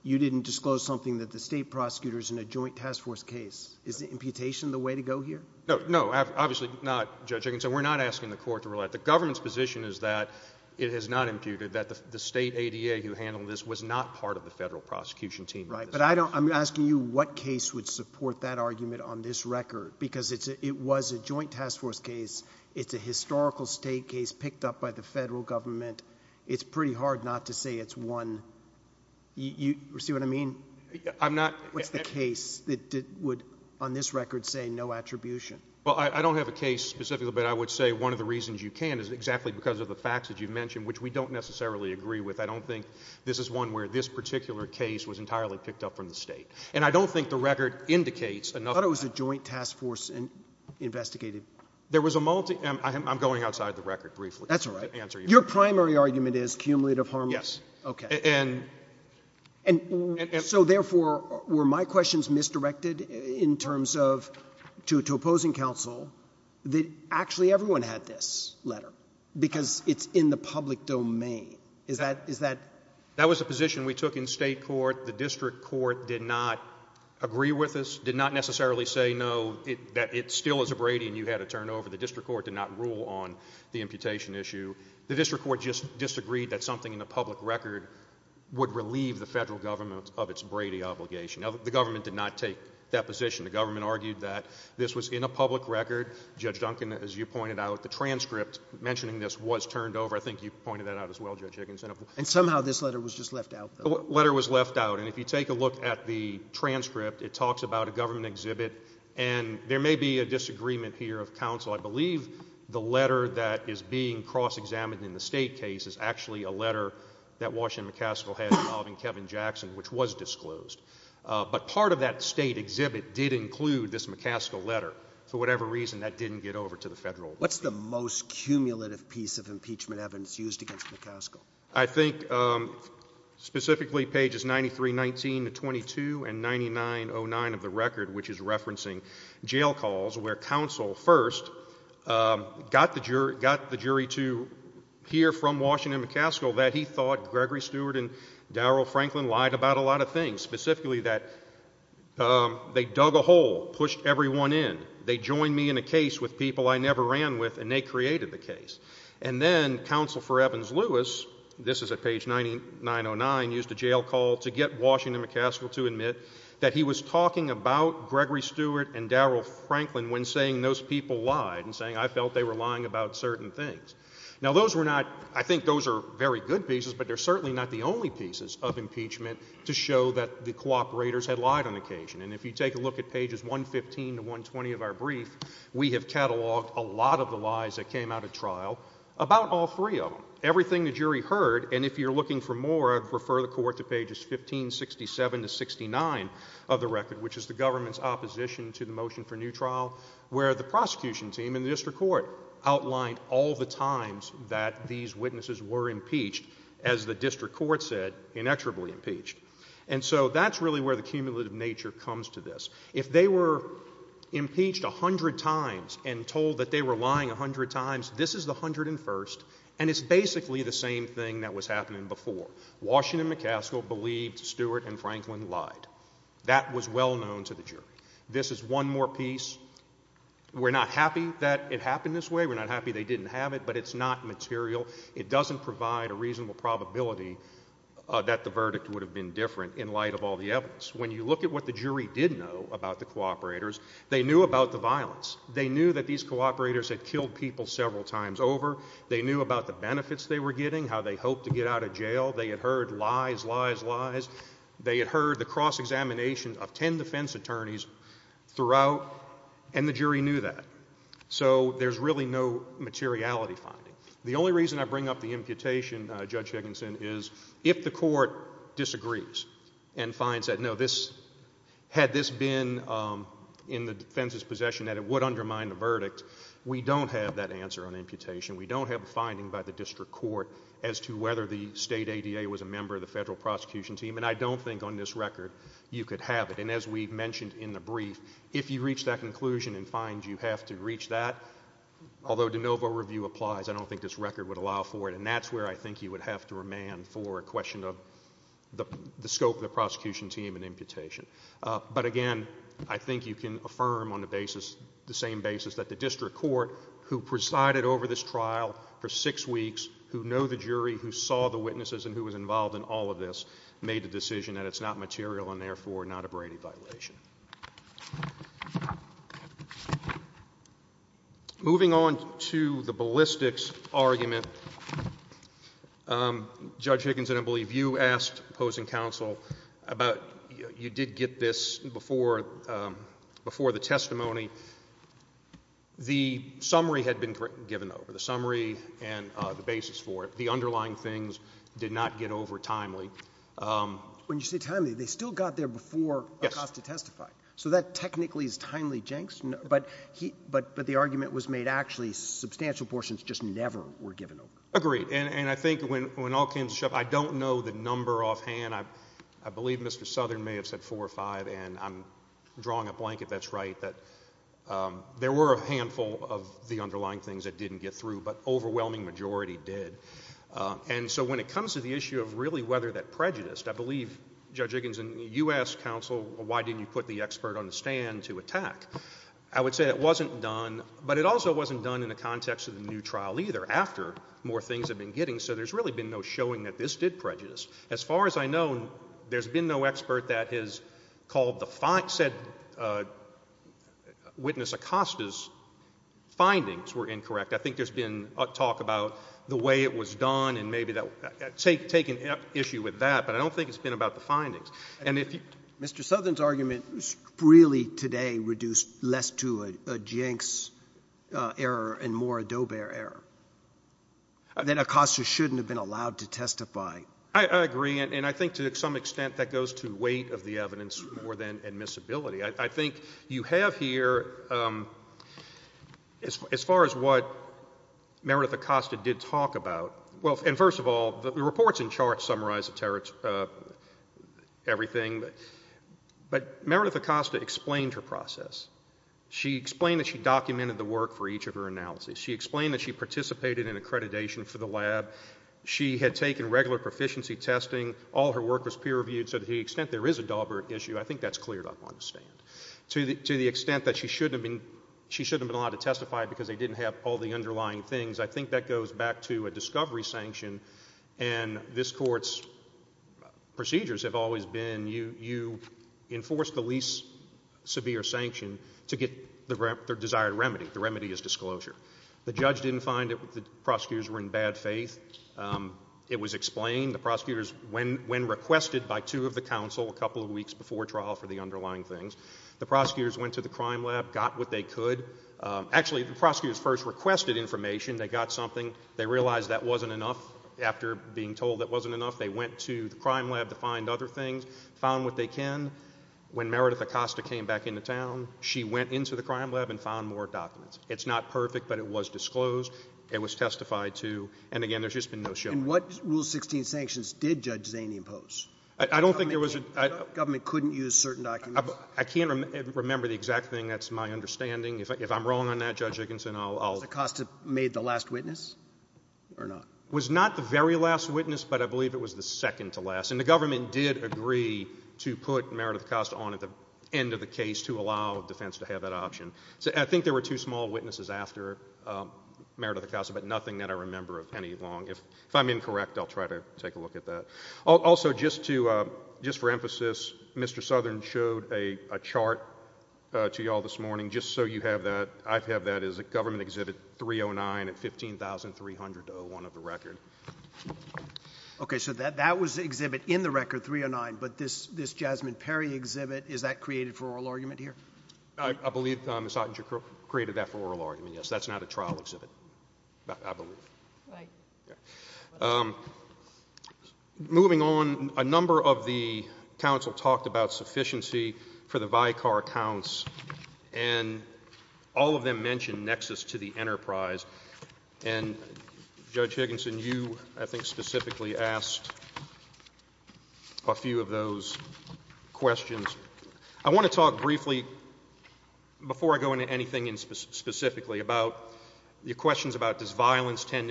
you didn't disclose something that the state prosecutor's in a joint task force case? Is the imputation the way to go here? No, no, obviously not, Judge. I can say we're not asking the court to rule that. The government's position is that it is not imputed, that the state ADA who handled this was not part of the federal prosecution team. Right. But I'm asking you what case would support that argument on this record? Because it was a joint task force case. It's a historical state case picked up by the federal government. It's pretty hard not to say it's one. You see what I mean? I'm not. What's the case that would, on this record, say no attribution? Well, I don't have a case specifically, but I would say one of the reasons you can is exactly because of the facts that you mentioned, which we don't necessarily agree with. I don't think this is one where this particular case was entirely picked up from the state. And I don't think the record indicates enough. I thought it was a joint task force investigated. There was a multi- I'm going outside the record briefly. That's all right. Your primary argument is cumulative harm? Yes. Okay. So therefore, were my questions misdirected in terms of, to opposing counsel, that actually everyone had this letter? Because it's in the public domain. That was a position we took in state court. The district court did not agree with us, did not necessarily say no, that it still was a Brady and you had to turn it over. The district court did not rule on the imputation issue. The district court just disagreed that something in the public record would relieve the federal government of its Brady obligation. The government did not take that position. The government argued that this was in a public record. Judge Duncan, as you pointed out, the transcript mentioning this was turned over. I think you pointed that out as well, Judge Higgins. And somehow this letter was just left out. The letter was left out. And if you take a look at the transcript, it talks about a government exhibit. And there may be a disagreement here of counsel. I believe the letter that is being cross-examined in the state case is actually a letter that Washington McCaskill had involving Kevin Jackson, which was disclosed. But part of that state exhibit did include this McCaskill letter. For whatever reason, that didn't get over to the federal. What's the most cumulative piece of impeachment evidence used against McCaskill? I think specifically pages 9319 to 22 and 9909 of the record, which is referencing jail calls where counsel first got the jury to hear from Washington McCaskill that he thought Gregory Stewart and Daryl Franklin lied about a lot of things, specifically that they dug a hole, pushed everyone in. They joined me in a case with people I never ran with, and they created the case. And then counsel for Evans Lewis, this is at page 9909, used a jail call to get Washington McCaskill to admit that he was talking about Gregory Stewart and Daryl Franklin when saying those people lied and saying, I felt they were lying about certain things. Now, those were not, I think those are very good pieces, but they're certainly not the only pieces of impeachment to show that the cooperators had lied on occasion. And if you take a look at pages 115 to 120 of our brief, we have cataloged a lot of the about all three of them, everything the jury heard. And if you're looking for more, refer the court to pages 1567 to 69 of the record, which is the government's opposition to the motion for new trial, where the prosecution team in the district court outlined all the times that these witnesses were impeached, as the district court said, inexorably impeached. And so that's really where the cumulative nature comes to this. If they were impeached 100 times and told that they were lying 100 times, this is the 101st. And it's basically the same thing that was happening before. Washington McCaskill believed Stewart and Franklin lied. That was well known to the jury. This is one more piece. We're not happy that it happened this way. We're not happy they didn't have it, but it's not material. It doesn't provide a reasonable probability that the verdict would have been different in light of all the evidence. They knew that these cooperators had killed people several times over. They knew about the benefits they were getting, how they hoped to get out of jail. They had heard lies, lies, lies. They had heard the cross-examination of 10 defense attorneys throughout, and the jury knew that. So there's really no materiality finding. The only reason I bring up the imputation, Judge Higginson, is if the court disagrees and finds that, no, had this been in the defense's possession, that it would undermine the verdict, we don't have that answer on imputation. We don't have a finding by the district court as to whether the state ADA was a member of the federal prosecution team, and I don't think on this record you could have it. And as we've mentioned in the brief, if you reach that conclusion and find you have to reach that, although de novo review applies, I don't think this record would allow for it. And that's where I think you would have to remand for a question of the scope of the prosecution team and imputation. But again, I think you can affirm on the basis, the same basis that the district court, who presided over this trial for six weeks, who know the jury, who saw the witnesses, and who was involved in all of this, made the decision that it's not material and therefore not a Brady violation. Moving on to the ballistics argument, Judge Higgins, I believe you asked opposing counsel about, you did get this before the testimony. The summary had been given over, the summary and the basis for it. The underlying things did not get over timely. When you say timely, they still got there before Acosta testified. So that technically is timely, Jenks, but the argument was made actually substantial portions just never were given over. Agreed. And I think when all came to shove, I don't know the number offhand. I believe Mr. Southern may have said four or five, and I'm drawing a blanket that's right, that there were a handful of the underlying things that didn't get through, but overwhelming majority did. And so when it comes to the issue of really whether that prejudiced, I believe, Judge Higgins, you asked counsel, why didn't you put the expert on the stand to attack? I would say it wasn't done, but it also wasn't done in the context of the new trial either, after more things had been getting, so there's really been no showing that this did prejudice. As far as I know, there's been no expert that has called the fact, said witness Acosta's findings were incorrect. I think there's been talk about the way it was done, and maybe take an issue with that, but I don't think it's been about the findings. And Mr. Southern's argument really today reduced less to a Jenks error and more a Doebert error, that Acosta shouldn't have been allowed to testify. I agree, and I think to some extent that goes to weight of the evidence more than admissibility. I think you have here, as far as what Meredith Acosta did talk about, well, and first of all, the reports and charts summarize everything, but Meredith Acosta explained her process. She explained that she documented the work for each of her analyses. She explained that she participated in accreditation for the lab. She had taken regular proficiency testing. All her work was peer reviewed, so to the extent there is a Doebert issue, I think that's clear to understand. To the extent that she shouldn't have been allowed to testify because they didn't have all the underlying things, I think that goes back to a discovery sanction, and this Court's procedures have always been you enforce the least severe sanction to get the desired remedy. The remedy is disclosure. The judge didn't find that the prosecutors were in bad faith. It was explained the prosecutors, when requested by two of the counsel a couple of weeks ago, that they were going to be given a new trial for the underlying things. The prosecutors went to the crime lab, got what they could. Actually, the prosecutors first requested information. They got something. They realized that wasn't enough. After being told that wasn't enough, they went to the crime lab to find other things, found what they can. When Meredith Acosta came back into town, she went into the crime lab and found more documents. It's not perfect, but it was disclosed. It was testified to, and again, there's just been no showing. And what Rule 16 sanctions did Judge Zaney impose? I don't think there was a— The government couldn't use certain documents. I can't remember the exact thing. That's my understanding. If I'm wrong on that, Judge Dickinson, I'll— Acosta made the last witness or not? Was not the very last witness, but I believe it was the second to last. And the government did agree to put Meredith Acosta on at the end of the case to allow defense to have that option. I think there were two small witnesses after Meredith Acosta, but nothing that I remember of any long. If I'm incorrect, I'll try to take a look at that. Also, just for emphasis, Mr. Southern showed a chart to you all this morning, just so you have that. I have that as a government exhibit 309 and 15,301 of the record. Okay, so that was the exhibit in the record 309, but this Jasmine Perry exhibit, is that created for oral argument here? I believe Ms. Hockentrich created that for oral argument, yes. That's not a trial exhibit, I believe. Right. Moving on, a number of the counsel talked about sufficiency for the VICAR counts, and all of them mentioned nexus to the enterprise. And Judge Dickinson, you, I think, specifically asked a few of those questions. I want to talk briefly, before I go into anything specifically, about your questions about this enhancing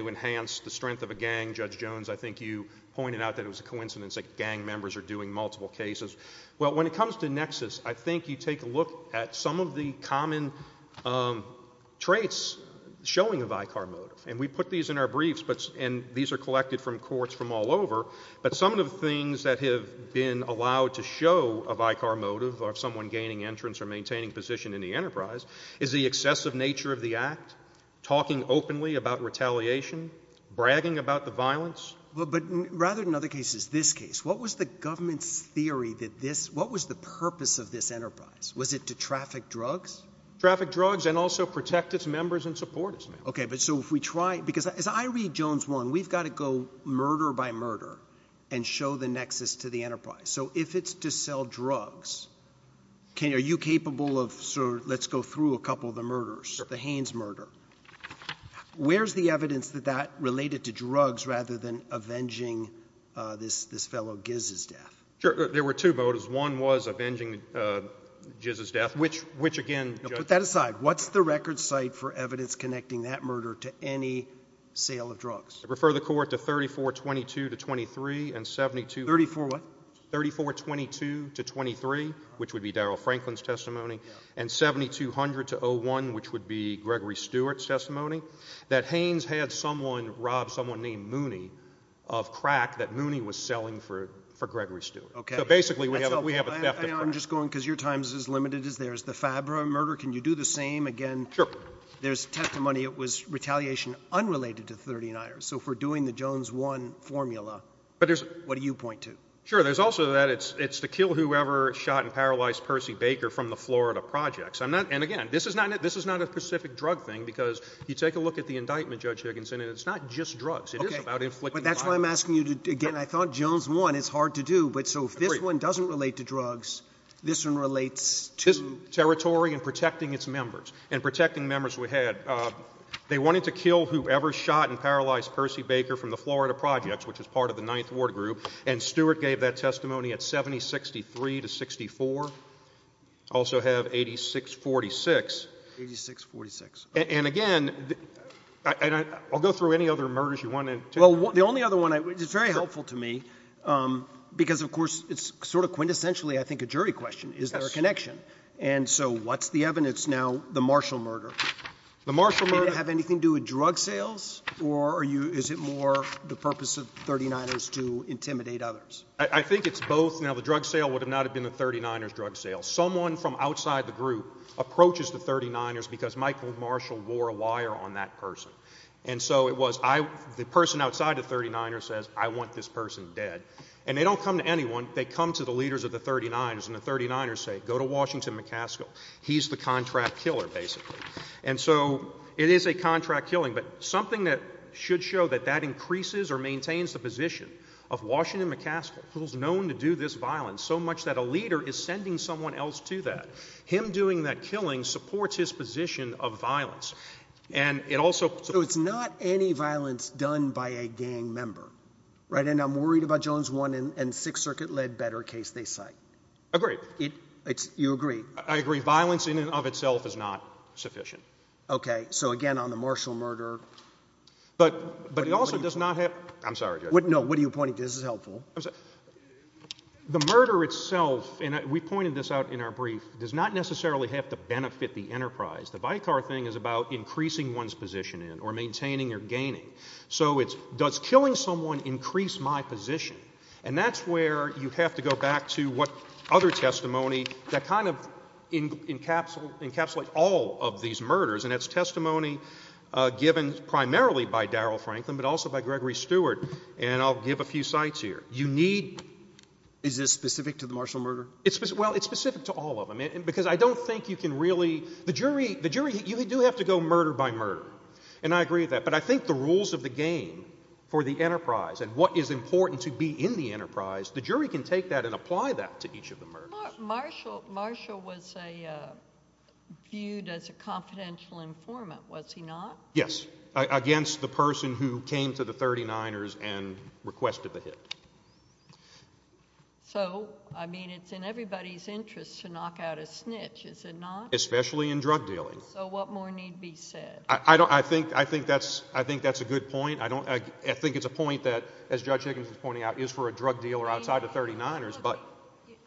the strength of a gang. Judge Jones, I think you pointed out that it was a coincidence that gang members are doing multiple cases. Well, when it comes to nexus, I think you take a look at some of the common traits showing the VICAR motive. And we put these in our briefs, and these are collected from courts from all over. But some of the things that have been allowed to show a VICAR motive, or someone gaining entrance or maintaining position in the enterprise, is the excessive nature of the act, talking openly about retaliation, bragging about the violence. But rather than other cases, this case, what was the government's theory that this, what was the purpose of this enterprise? Was it to traffic drugs? Traffic drugs and also protect its members and supporters. OK, but so if we try, because as I read Jones one, we've got to go murder by murder and show the nexus to the enterprise. So if it's to sell drugs, are you capable of, sir, let's go through a couple of the murders, the Haines murder. Where's the evidence that that related to drugs rather than avenging this fellow Giz's death? Sure. There were two motives. One was avenging Giz's death, which again… Put that aside. What's the record site for evidence connecting that murder to any sale of drugs? Refer the court to 3422-23 and 72… 34 what? 3422-23, which would be Daryl Franklin's testimony, and 7200-01, which would be Gregory Stewart's testimony, that Haines had someone rob someone named Mooney of crack that Mooney was selling for Gregory Stewart. OK. So basically we have a… I'm just going because your time is as limited as there's the Fabra murder. Can you do the same again? Sure. There's testimony it was retaliation unrelated to 39ers. So if we're doing the Jones one formula, what do you point to? Sure. There's also that it's the kill whoever shot and paralyzed Percy Baker from the Florida projects. And again, this is not a specific drug thing because you take a look at the indictment, Judge Higgins, and it's not just drugs. It is about inflicting violence. That's why I'm asking you to… Again, I thought Jones one, it's hard to do. But so if this one doesn't relate to drugs, this one relates to… Territory and protecting its members and protecting members we had. They wanted to kill whoever shot and paralyzed Percy Baker from the Florida projects, which is part of the Ninth Ward group. And Stewart gave that testimony at 7063-64. Also have 86-46. 86-46. And again, I'll go through any other murders you want to take. Well, the only other one, it's very helpful to me because, of course, it's sort of quintessentially, I think, a jury question. Is there a connection? And so what's the evidence now? The Marshall murder. The Marshall murder… Did it have anything to do with drug sales or is it more the purpose of 39ers to intimidate others? I think it's both. You know, the drug sale would have not have been a 39ers drug sale. Someone from outside the group approaches the 39ers because Michael Marshall wore a wire on that person. And so it was the person outside the 39ers says, I want this person dead. And they don't come to anyone. They come to the leaders of the 39ers and the 39ers say, go to Washington McCaskill. He's the contract killer, basically. And so it is a contract killing. But something that should show that that increases or maintains the position of Washington McCaskill, who's known to do this violence so much that a leader is sending someone else to that. Him doing that killing supports his position of violence. And it also… So it's not any violence done by a gang member, right? And I'm worried about Jones 1 and 6th Circuit-led better case they cite. Agree. You agree? I agree. Violence in and of itself is not sufficient. OK. So again, on the Marshall murder… But it also does not have… I'm sorry. No, what are you pointing to? This is helpful. The murder itself, and we pointed this out in our brief, does not necessarily have to benefit the enterprise. The vicar thing is about increasing one's position in or maintaining or gaining. So it's, does killing someone increase my position? And that's where you have to go back to what other testimony that kind of encapsulates all of these murders. And that's testimony given primarily by Daryl Franklin, but also by Gregory Stewart. And I'll give a few sites here. You need… Is this specific to the Marshall murder? Well, it's specific to all of them, because I don't think you can really… The jury, you do have to go murder by murder. And I agree with that. But I think the rules of the game for the enterprise and what is important to be in the enterprise, the jury can take that and apply that to each of the murders. Marshall was viewed as a confidential informant, was he not? Yes, against the person who came to the 39ers and requested the hit. So, I mean, it's in everybody's interest to knock out a snitch, is it not? Especially in drug dealing. So what more need be said? I don't, I think, I think that's, I think that's a good point. I don't, I think it's a point that, as Judge Higginson's pointing out, is for a drug dealer outside the 39ers, but…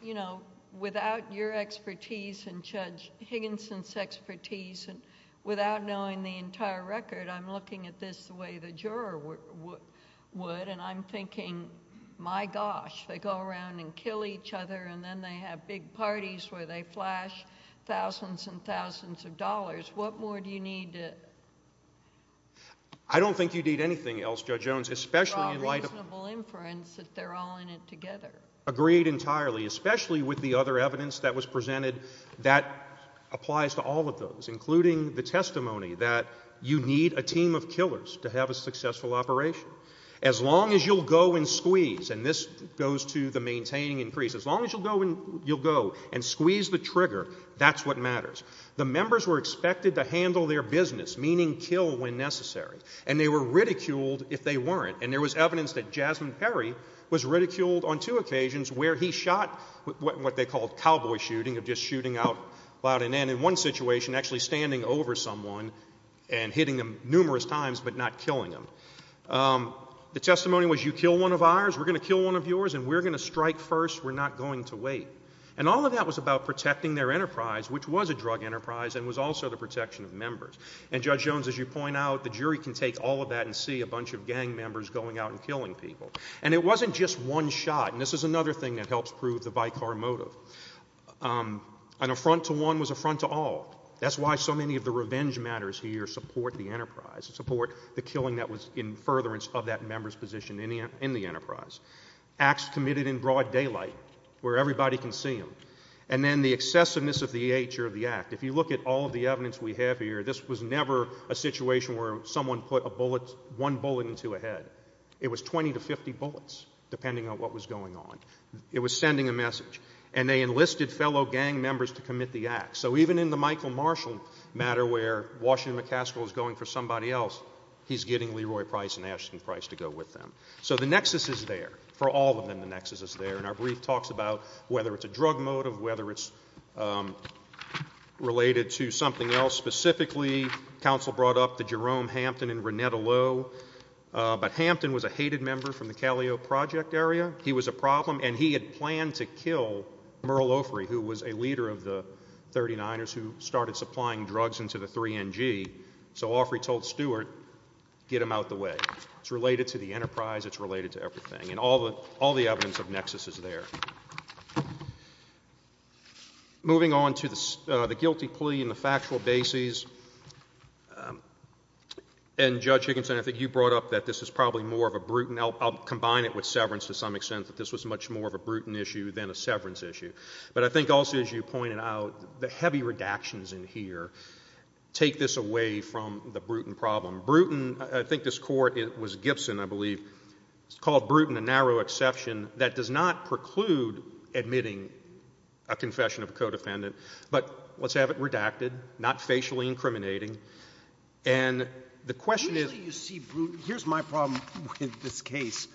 You know, without your expertise and Judge Higginson's expertise and without knowing the entire record, I'm looking at this the way the juror would, and I'm thinking, my gosh, they go around and kill each other, and then they have big parties where they flash thousands and thousands of dollars. What more do you need to… I don't think you need anything else, Judge Jones, especially in light of… It's all reasonable inference that they're all in it together. Agreed entirely. Especially with the other evidence that was presented that applies to all of those, including the testimony that you need a team of killers to have a successful operation. As long as you'll go and squeeze, and this goes to the maintaining increase, as long as you'll go and you'll go and squeeze the trigger, that's what matters. The members were expected to handle their business, meaning kill when necessary, and they were ridiculed if they weren't, and there was evidence that Jasmine Perry was ridiculed on two occasions where he shot what they called cowboy shooting, of just shooting out loud and then, in one situation, actually standing over someone and hitting them numerous times but not killing them. The testimony was, you kill one of ours, we're going to kill one of yours, and we're going to strike first, we're not going to wait. And all of that was about protecting their enterprise, which was a drug enterprise, and was also the protection of members. And, Judge Jones, as you point out, the jury can take all of that and see a bunch of gang members going out and killing people. And it wasn't just one shot, and this is another thing that helps prove the bycar motive. An affront to one was an affront to all. That's why so many of the revenge matters here support the enterprise, support the killing that was in furtherance of that member's position in the enterprise. Acts committed in broad daylight, where everybody can see them. And then the excessiveness of the EH or the act. If you look at all of the evidence we have here, this was never a situation where someone put a bullet, one bullet into a head. It was 20 to 50 bullets, depending on what was going on. It was sending a message. And they enlisted fellow gang members to commit the act. So even in the Michael Marshall matter, where Washington McCaskill is going for somebody else, he's getting Leroy Price and Ashton Price to go with them. So the nexus is there. For all of them, the nexus is there. And our brief talks about whether it's a drug motive, whether it's related to something else. Specifically, counsel brought up the Jerome Hampton and Renetta Lowe. But Hampton was a hated member from the Calio Project area. He was a problem. And he had planned to kill Merle Offrey, who was a leader of the 39ers who started supplying drugs into the 3NG. So Offrey told Stewart, get them out of the way. It's related to the enterprise. It's related to everything. And all the evidence of nexus is there. Moving on to the guilty plea and the factual bases. And Judge Higginson, I think you brought up that this is probably more of a brute. I'll combine it with severance to some extent, but this was much more of a brute issue than a severance issue. But I think also, as you pointed out, the heavy redactions in here take this away from the brute problem. Bruton, I think this court was Gibson, I believe, called Bruton a narrow exception that does not preclude admitting a confession of codependent. But let's have it redacted, not facially incriminating. And the question is— with this case,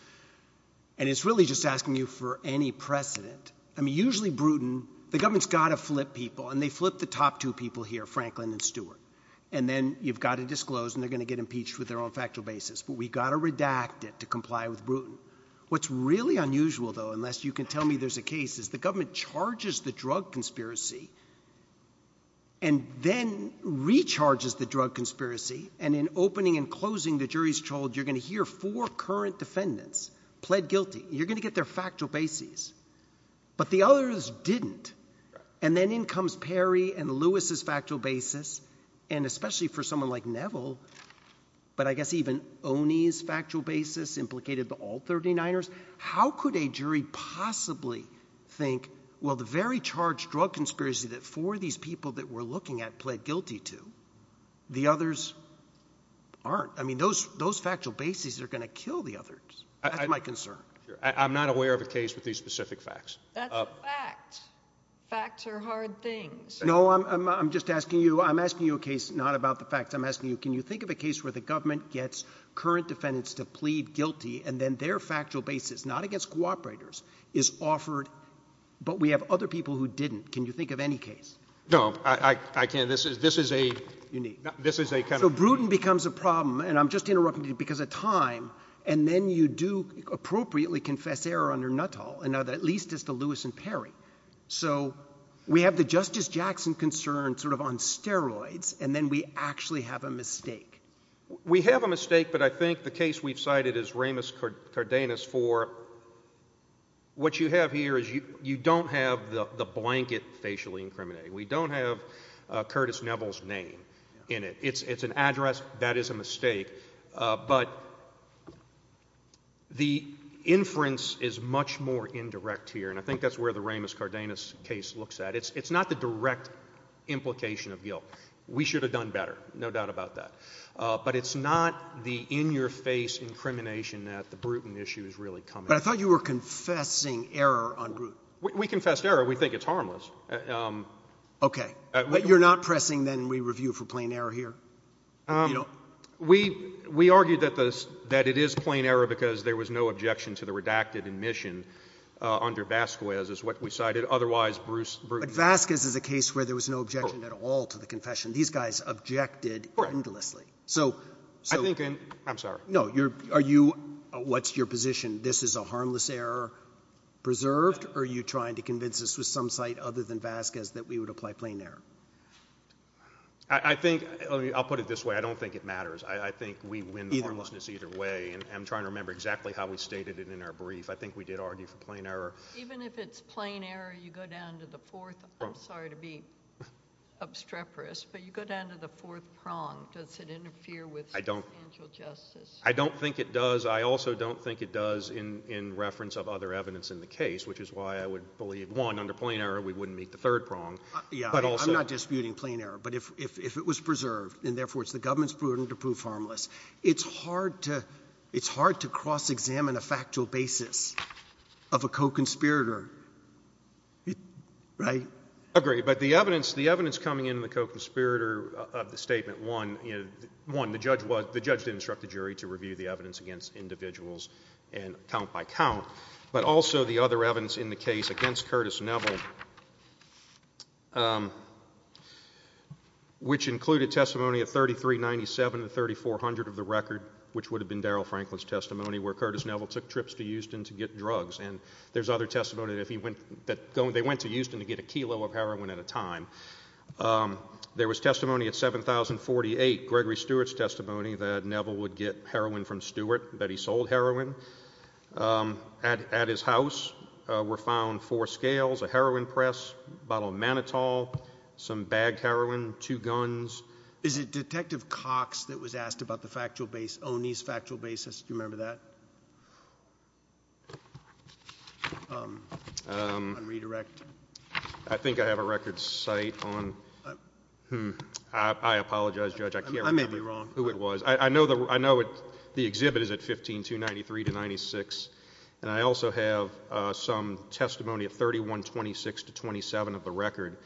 and it's really just asking you for any precedent. I mean, usually Bruton—the government's got to flip people, and they flip the top two people here, Franklin and Stewart. And then you've got to disclose, and they're going to get impeached with their own factual bases. But we've got to redact it to comply with Bruton. What's really unusual, though, unless you can tell me there's a case, is the government charges the drug conspiracy and then recharges the drug conspiracy. And in opening and closing, the jury's told, you're going to hear four current defendants pled guilty. You're going to get their factual bases. But the others didn't. And then in comes Perry and Lewis's factual basis. And especially for someone like Neville, but I guess even Oney's factual basis implicated all 39ers. How could a jury possibly think, well, the very charged drug conspiracy that four of the people that we're looking at pled guilty to, the others aren't? I mean, those factual bases are going to kill the others. That's my concern. I'm not aware of a case with these specific facts. That's a fact. Facts are hard things. No, I'm just asking you—I'm asking you a case not about the facts. I'm asking you, can you think of a case where the government gets current defendants to plead guilty, and then their factual basis, not against cooperators, is offered, but we have other people who didn't? Can you think of any case? No, I can't. This is a— You need— This is a kind of— So Bruton becomes a problem, and I'm just interrupting you because of time, and then you do appropriately confess error under Nuttall, and now at least it's the Lewis and Perry. So we have the Justice Jackson concern sort of on steroids, and then we actually have a mistake. We have a mistake, but I think the case we've cited is Ramos-Cardenas for—what you have here is you don't have the blanket facially incriminating. We don't have Curtis Neville's name in it. It's an address. That is a mistake. But the inference is much more indirect here, and I think that's where the Ramos-Cardenas case looks at. It's not the direct implication of guilt. We should have done better. No doubt about that. But it's not the in-your-face incrimination that the Bruton issue is really coming at. I thought you were confessing error on Bruton. We confess error. We think it's harmless. Okay. But you're not pressing, then, we review for plain error here? We argue that it is plain error because there was no objection to the redacted admission under Vasquez, is what we cited. Otherwise, Bruce— But Vasquez is a case where there was no objection at all to the confession. These guys objected endlessly. So— I think—I'm sorry. No, are you—what's your position? This is a harmless error preserved, or are you trying to convince us with some site other than Vasquez that we would apply plain error? I think—I'll put it this way. I don't think it matters. I think we win the harmlessness either way, and I'm trying to remember exactly how we stated it in our brief. I think we did argue for plain error. Even if it's plain error, you go down to the fourth—I'm sorry to be obstreperous, but you go down to the fourth prong. Does it interfere with financial justice? I don't think it does. I also don't think it does in reference of other evidence in the case, which is why I would believe, one, under plain error, we wouldn't meet the third prong. Yeah, I'm not disputing plain error. But if it was preserved, and therefore it's the government's burden to prove harmless, it's hard to cross-examine a factual basis of a co-conspirator, right? Agreed. But the evidence coming in the co-conspirator of the statement, one, the judge didn't instruct the jury to review the evidence against individuals count by count, but also the other evidence in the case against Curtis Neville, which included testimony of 3397 to 3400 of the record, which would have been Daryl Franklin's testimony, where Curtis Neville took trips to Houston to get drugs. And there's other testimony that he went—that they went to Houston to get a kilo of heroin at a time. There was testimony at 7048, Gregory Stewart's testimony, that Neville would get heroin from Stewart, that he sold heroin. At his house were found four scales, a heroin press, a bottle of Manitow, some bagged heroin, two guns. Is it Detective Cox that was asked about the factual base—O'Neill's factual basis, do you remember that? On redirection. I think I have a record site on—I apologize, Judge, I can't remember who it was. I know the exhibit is at 15293 to 96, and I also have some testimony of 3126 to 27 of the record,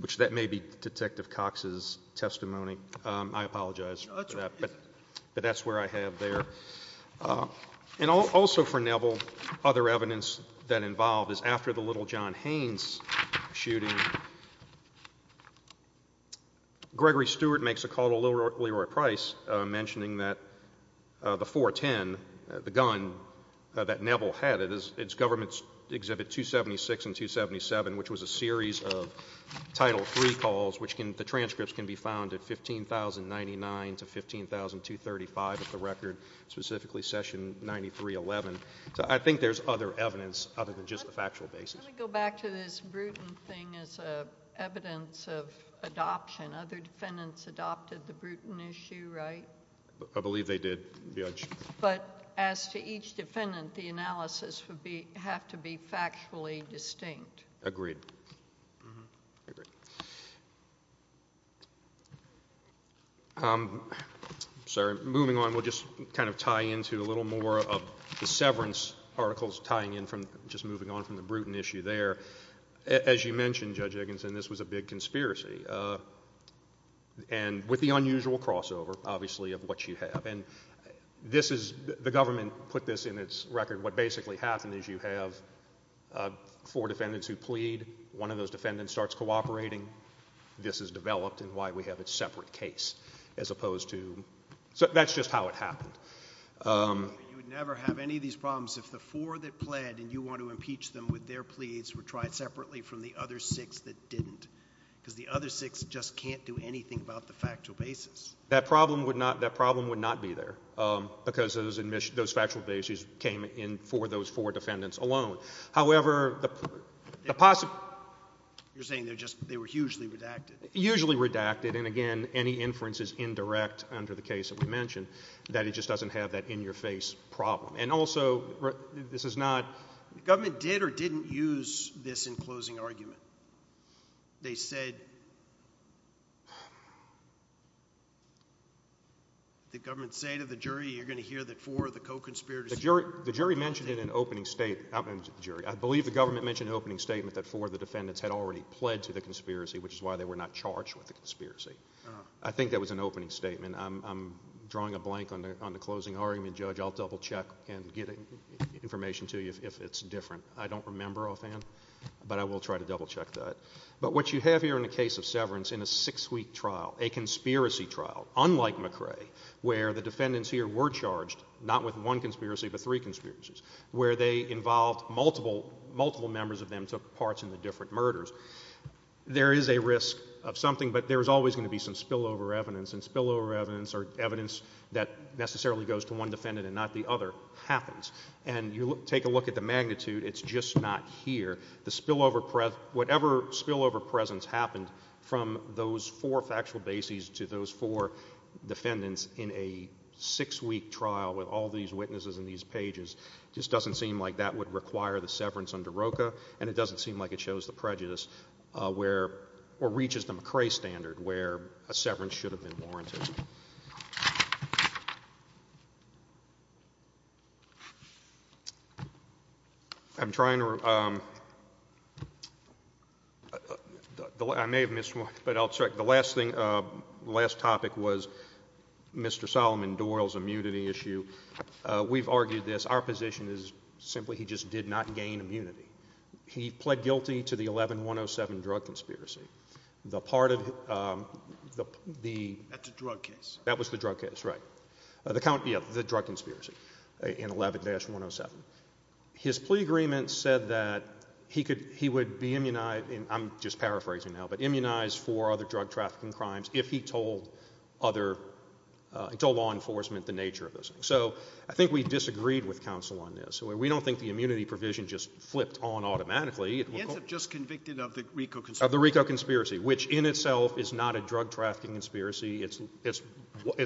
which that may be Detective Cox's testimony. I apologize for that, but that's where I have there. And also for Neville, other evidence that involved is after the Little John Haynes shooting, Gregory Stewart makes a call to Leroy Price, mentioning that the 410, the gun that Neville had, it is—its government's exhibit 276 and 277, which was a series of Title III calls, the transcripts can be found at 15,099 to 15,235 of the record, specifically Session 9311. So I think there's other evidence other than just the factual basis. Let me go back to this Bruton thing as evidence of adoption. Other defendants adopted the Bruton issue, right? I believe they did, Judge. But as to each defendant, the analysis would have to be factually distinct. Agreed. Sir, moving on, we'll just kind of tie into a little more of the severance articles, tying in from—just moving on from the Bruton issue there. As you mentioned, Judge Higginson, this was a big conspiracy, and with the unusual crossover, obviously, of what you have. And this is—the government put this in its record. What basically happened is you have four defendants who plead, one of those defendants starts cooperating, this is developed, and why we have a separate case as opposed to—that's just how it happened. You would never have any of these problems if the four that pled and you want to impeach them with their pleas were tried separately from the other six that didn't, because the other six just can't do anything about the factual basis. That problem would not—that problem would not be there, because those factual basis came in for those four defendants alone. However, the— You're saying they're just—they were hugely redacted. Hugely redacted, and again, any inferences indirect under the case that we mentioned, that it just doesn't have that in-your-face problem. And also, this is not— The government did or didn't use this in closing argument? They said—the government said to the jury, you're going to hear that four of the co-conspirators— the jury mentioned in an opening statement—I believe the government mentioned an opening statement that four of the defendants had already pled to the conspiracy, which is why they were not charged with the conspiracy. I think that was an opening statement. I'm drawing a blank on the closing argument, Judge. I'll double-check and give information to you if it's different. I don't remember offhand, but I will try to double-check that. But what you have here in the case of Severance in a six-week trial, a conspiracy trial, unlike McRae, where the defendants here were charged, not with one conspiracy but three conspiracies, where they involved—multiple members of them took part in the different murders, there is a risk of something, but there is always going to be some spillover evidence, and spillover evidence or evidence that necessarily goes to one defendant and not the other happens. And you take a look at the magnitude, it's just not here. The spillover—whatever spillover presence happened from those four factual bases to those four defendants in a six-week trial with all these witnesses and these pages, just doesn't seem like that would require the severance under ROKA, and it doesn't seem like it shows the prejudice where—or reaches the McRae standard where a severance should have been warranted. I'm trying to—I may have missed one, but I'll check. The last thing, the last topic was Mr. Solomon Doyle's immunity issue. We've argued this. Our position is simply he just did not gain immunity. He pled guilty to the 11-107 drug conspiracy. The part of the— That's a drug case. That was the drug case, right. The drug conspiracy in 11-107. His plea agreement said that he would be immunized—and I'm just paraphrasing now—but immunized for other drug trafficking crimes if he told other—he told law enforcement the nature of this. So I think we disagreed with counsel on this. We don't think the immunity provision just flipped on automatically. He ended up just convicted of the RICO conspiracy. Which, in itself, is not a drug trafficking conspiracy. It's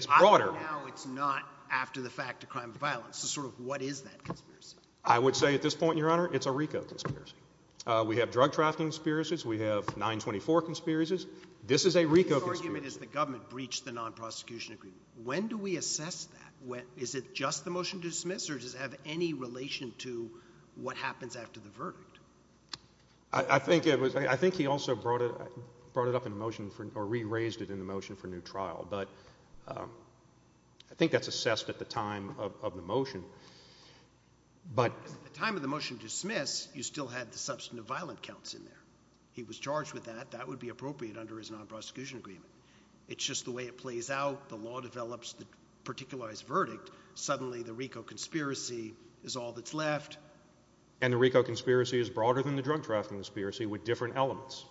broader. How is it not after the fact a crime of violence? It's sort of what is that conspiracy? I would say at this point, Your Honor, it's a RICO conspiracy. We have drug trafficking conspiracies. We have 924 conspiracies. This is a RICO conspiracy. His argument is the government breached the non-prosecution agreement. When do we assess that? Is it just the motion to dismiss, or does it have any relation to what happens after the verdict? I think it was—I think he also brought it up in motion for—or re-raised it in motion for new trial. But I think that's assessed at the time of the motion. But at the time of the motion to dismiss, you still had the substance of violent counts in there. He was charged with that. That would be appropriate under his non-prosecution agreement. It's just the way it plays out. The law develops the particularized verdict. Suddenly, the RICO conspiracy is all that's left. And the RICO conspiracy is broader than the drug trafficking conspiracy with different elements.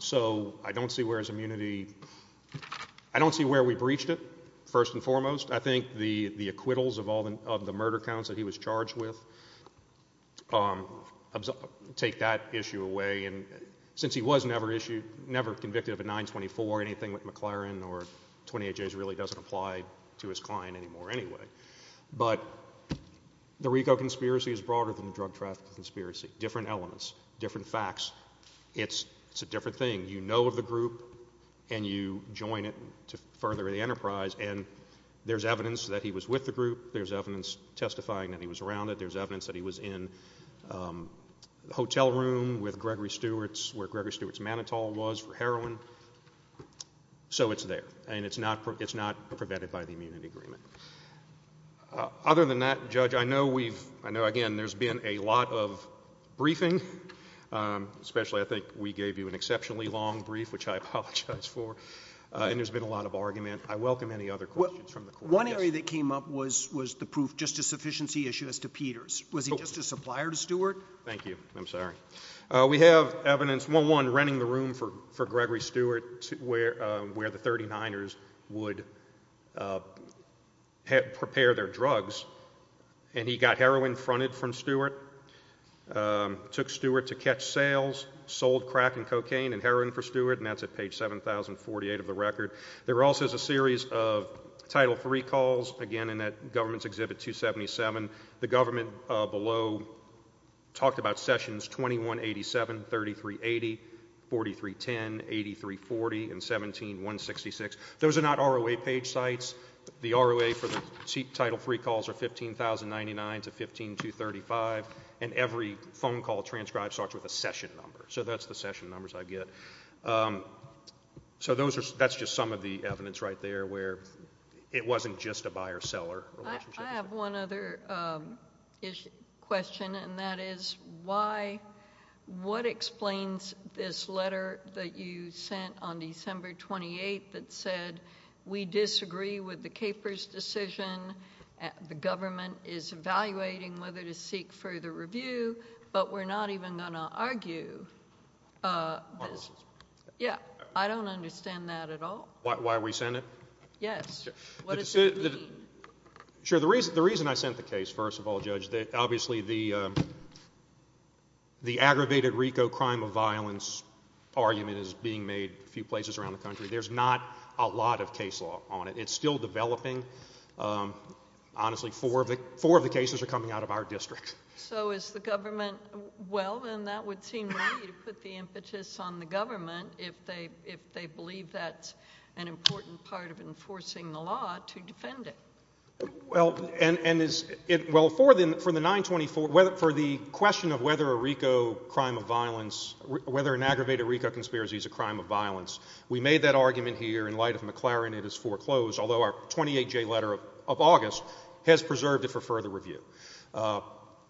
So I don't see where his immunity—I don't see where we breached it, first and foremost. I think the acquittals of all the—of the murder counts that he was charged with take that issue away. And since he was never issued—never convicted of a 924, anything with McLaren or 28Js really doesn't apply to his client anymore anyway. But the RICO conspiracy is broader than the drug trafficking conspiracy. Different elements. Different facts. It's a different thing. You know the group and you join it to further the enterprise. And there's evidence that he was with the group. There's evidence testifying that he was around it. There's evidence that he was in the hotel room with Gregory Stewart, where Gregory Stewart's Manitou was, for heroin. So it's there. And it's not prevented by the immunity agreement. Other than that, Judge, I know we've—I know, again, there's been a lot of briefing, especially I think we gave you an exceptionally long brief, which I apologize for, and there's been a lot of argument. I welcome any other questions from the court. One area that came up was the proof, just a sufficiency issue, as to Peters. Was he just a supplier to Stewart? Thank you. I'm sorry. We have evidence, one, running the room for Gregory Stewart, where the 39ers would prepare their drugs, and he got heroin fronted from Stewart, took Stewart to catch sales, sold crack and cocaine and heroin for Stewart, and that's at page 7048 of the record. There also is a series of Title III calls, again, in that government's Exhibit 277. The government below talked about sessions 2187, 3380, 4310, 8340, and 17166. Those are not ROA-paid sites. The ROA for the Title III calls are 15,099 to 15,235, and every phone call transcribed starts with a session number. So that's the session numbers I get. So that's just some of the evidence right there where it wasn't just a buyer-seller relationship. I have one other question, and that is why—what explains this letter that you sent on December 28th that said, we disagree with the Capers decision, the government is evaluating whether to seek further review, but we're not even going to argue? Yeah, I don't understand that at all. Why are we sending it? Yes. Sure, the reason I sent the case, first of all, Judge, obviously the aggravated RICO crime of violence argument is being made a few places around the country. There's not a lot of case law on it. It's still developing. Honestly, four of the cases are coming out of our district. So is the government—well, then that would seem right to put the impetus on the government if they believe that's an important part of enforcing the law to defend it. Well, and is it—well, for the 924—for the question of whether a RICO crime of violence—whether an aggravated RICO conspiracy is a crime of violence, we made that argument here in light of McLaren and his foreclosed—although our 28-J letter of August has preserved it for further review.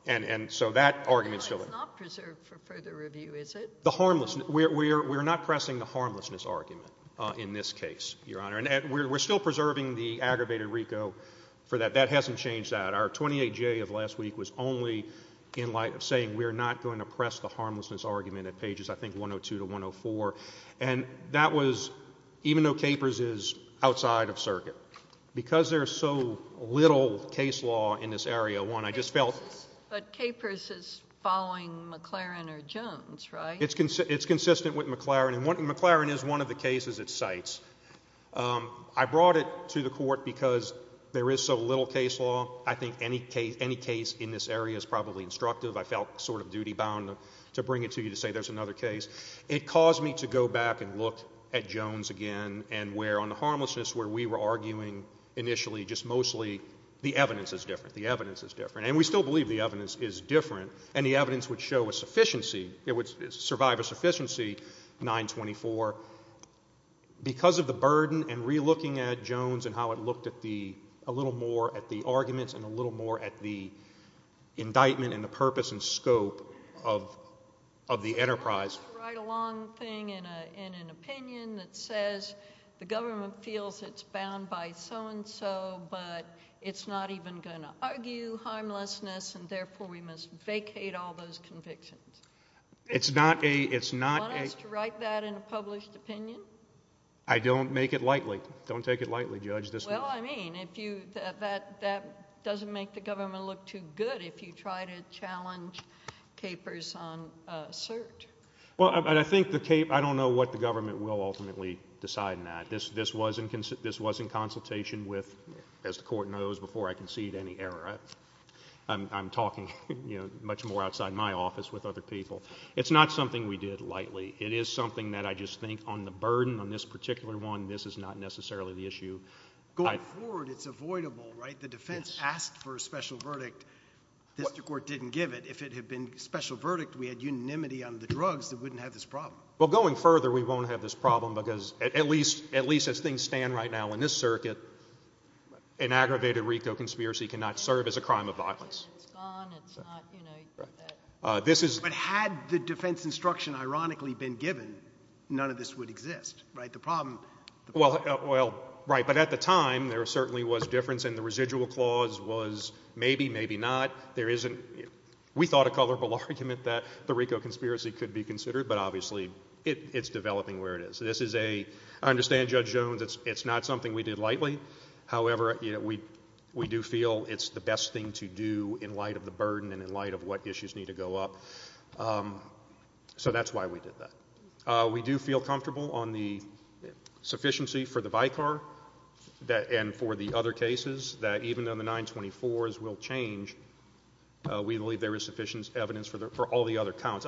And so that argument still exists. It's not preserved for further review, is it? The harmlessness—we're not pressing the harmlessness argument in this case, Your We're still preserving the aggravated RICO for that. That hasn't changed that. Our 28-J of last week was only in light of saying we're not going to press the harmlessness argument at pages, I think, 102 to 104. And that was—even though Capers is outside of circuit. Because there's so little case law in this area, one, I just felt— But Capers is following McLaren or Jones, right? And McLaren is one of the cases it cites. I brought it to the Court because there is so little case law. I think any case in this area is probably instructive. I felt sort of duty-bound to bring it to you to say there's another case. It caused me to go back and look at Jones again and where, on the harmlessness where we were arguing initially, just mostly, the evidence is different. The evidence is different. And we still believe the evidence is different. And the evidence would show a sufficiency. It would survive a sufficiency, 924. Because of the burden and re-looking at Jones and how it looked at the—a little more at the arguments and a little more at the indictment and the purpose and scope of the enterprise. I have to write a long thing in an opinion that says the government feels it's bound by so-and-so, but it's not even going to argue harmlessness, and therefore we must vacate all those convictions. It's not a— I don't make it lightly. Don't take it lightly, Judge. Well, I mean, if you—that doesn't make the government look too good if you try to challenge capers on cert. Well, I think the—I don't know what the government will ultimately decide on that. This was in consultation with, as the Court knows, before I concede any error. I'm talking, you know, much more outside my office with other people. It's not something we did lightly. It is something that I just think, on the burden on this particular one, this is not necessarily the issue. Going forward, it's avoidable, right? The defense asked for a special verdict. The Court didn't give it. If it had been a special verdict, we had unanimity on the drugs, it wouldn't have this problem. Well, going further, we won't have this problem because, at least as things stand right now in this circuit, an aggravated RICO conspiracy cannot serve as a crime of violence. It's gone. It's not, you know, except that— But had the defense instruction, ironically, been given, none of this would exist, right? The problem— Well, right. But at the time, there certainly was a difference, and the residual clause was maybe, maybe not. There isn't—we thought a colorful argument that the RICO conspiracy could be considered, but obviously it's developing where it is. This is a—I understand, Judge Jones, it's not something we did lightly. However, we do feel it's the best thing to do in light of the burden and in light of what issues need to go up. So that's why we did that. We do feel comfortable on the sufficiency for the VICAR and for the other cases that even though the 924s will change, we believe there is sufficient evidence for all the other counts.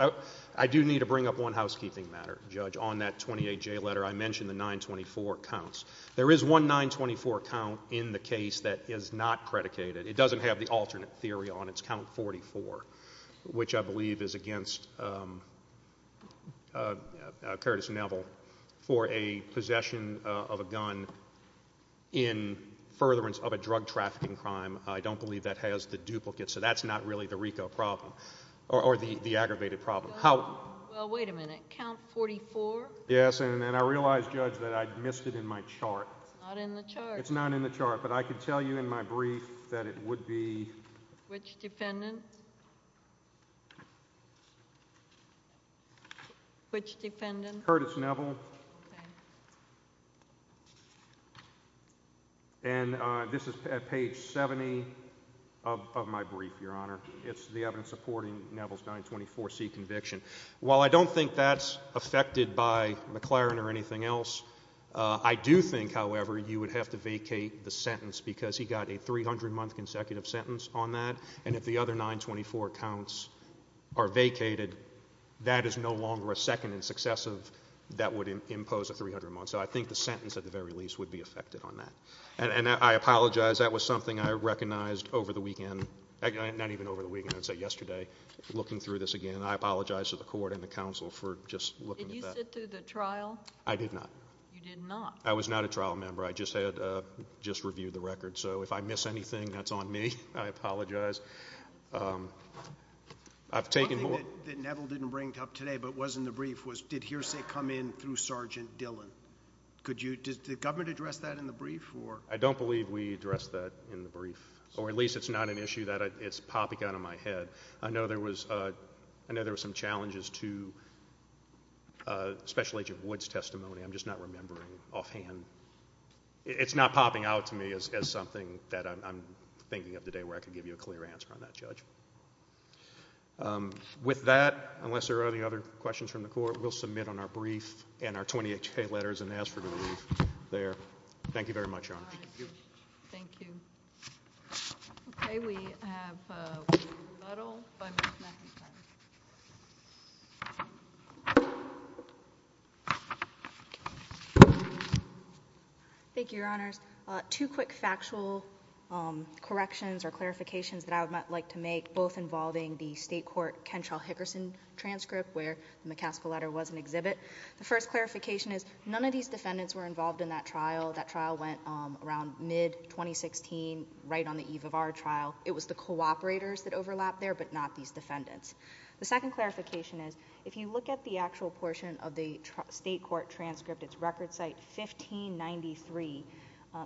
I do need to bring up one housekeeping matter, Judge, on that 28J letter. I mentioned the 924 counts. There is one 924 count in the case that is not predicated. It doesn't have the alternate theory on it. It's count 44, which I believe is against Curtis Neville for a possession of a gun in furtherance of a drug trafficking crime. I don't believe that has the duplicate, so that's not really the RICO problem or the aggravated problem. Well, wait a minute. Count 44? Yes, and I realize, Judge, that I missed it in my chart. Not in the chart. It's not in the chart, but I could tell you in my brief that it would be. Which defendant? Which defendant? Curtis Neville. And this is at page 70 of my brief, Your Honor. It's the evidence supporting Neville's 924C conviction. While I don't think that's affected by McLaren or anything else, I do think, however, you would have to vacate the sentence because he got a 300-month consecutive sentence on that. And if the other 924 counts are vacated, that is no longer a second in successive that would impose a 300-month. So I think the sentence, at the very least, would be affected on that. And I apologize. That was something I recognized over the weekend. Not even over the weekend. I said yesterday, looking through this again. I apologize to the court and the counsel for just looking at that. Did you sit through the trial? I did not. You did not? I was not a trial member. I just had just reviewed the record. So if I miss anything, that's on me. I apologize. I've taken more. Something that Neville didn't bring up today but was in the brief was did hearsay come in through Sergeant Dillon? Could you, did the government address that in the brief or? I don't believe we addressed that in the brief. Or at least it's not an issue that it's popping out of my head. I know there was, I know there were some challenges to Special Agent Wood's testimony. I'm just not remembering offhand. It's not popping out to me as something that I'm thinking of today where I can give you a clear answer on that, Judge. With that, unless there are any other questions from the court, we'll submit on our brief and our 20HK letters and ask for the brief there. Thank you very much, Your Honor. Thank you. Okay, we have a little five minutes left. Thank you, Your Honor. Two quick factual corrections or clarifications that I would like to make, both involving the state court Kentrell-Hickerson transcript where in the CASCA letter was an exhibit. The first clarification is none of these defendants were involved in that trial. That trial went around mid-2016, right on the eve of our trial. It was the cooperators that overlapped there but not these defendants. The second clarification is if you look at the actual portion of the state court transcript, it's record site 1593,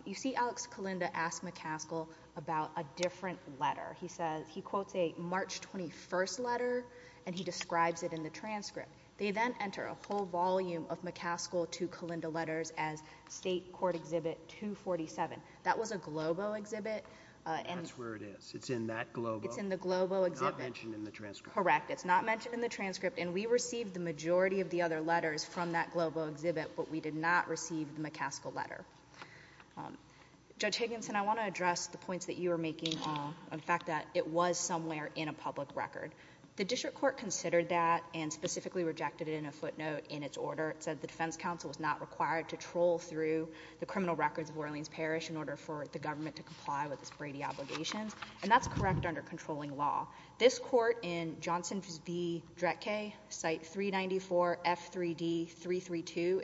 you see Alex Kalinda ask McCaskill about a different letter. He says, he quotes a March 21st letter and he describes it in the transcript. They then enter a whole volume of McCaskill to Kalinda letters as State Court Exhibit 247. That was a Globo exhibit. That's where it is. It's in that Globo. It's in the Globo exhibit. Not mentioned in the transcript. Correct. It's not mentioned in the transcript and we received the majority of the other letters from that Globo exhibit but we did not receive the McCaskill letter. Judge Higginson, I want to address the points that you were making on the fact that it was somewhere in a public record. The district court considered that and specifically rejected it in a footnote in its order. It said the defense counsel was not required to troll through the criminal records of Brady obligations and that's correct under controlling law. This court in Johnson v. Dretke, site 394F3D332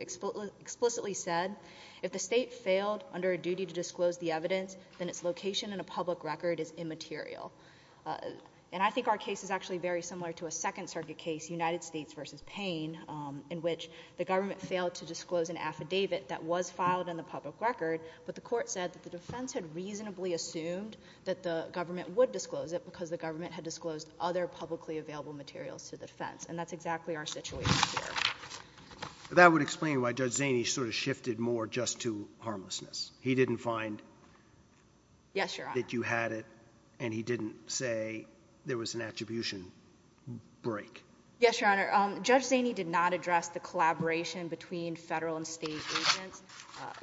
explicitly said, if the state failed under a duty to disclose the evidence, then its location in a public record is immaterial. And I think our case is actually very similar to a Second Circuit case, United States v. Payne, in which the government failed to disclose an affidavit that was filed in the public record but the court said that the defense had reasonably assumed that the government would disclose it because the government had disclosed other publicly available materials to the defense and that's exactly our situation here. That would explain why Judge Zaney sort of shifted more just to harmlessness. He didn't find that you had it and he didn't say there was an attribution break. Yes, Your Honor. Judge Zaney did not address the collaboration between federal and state agents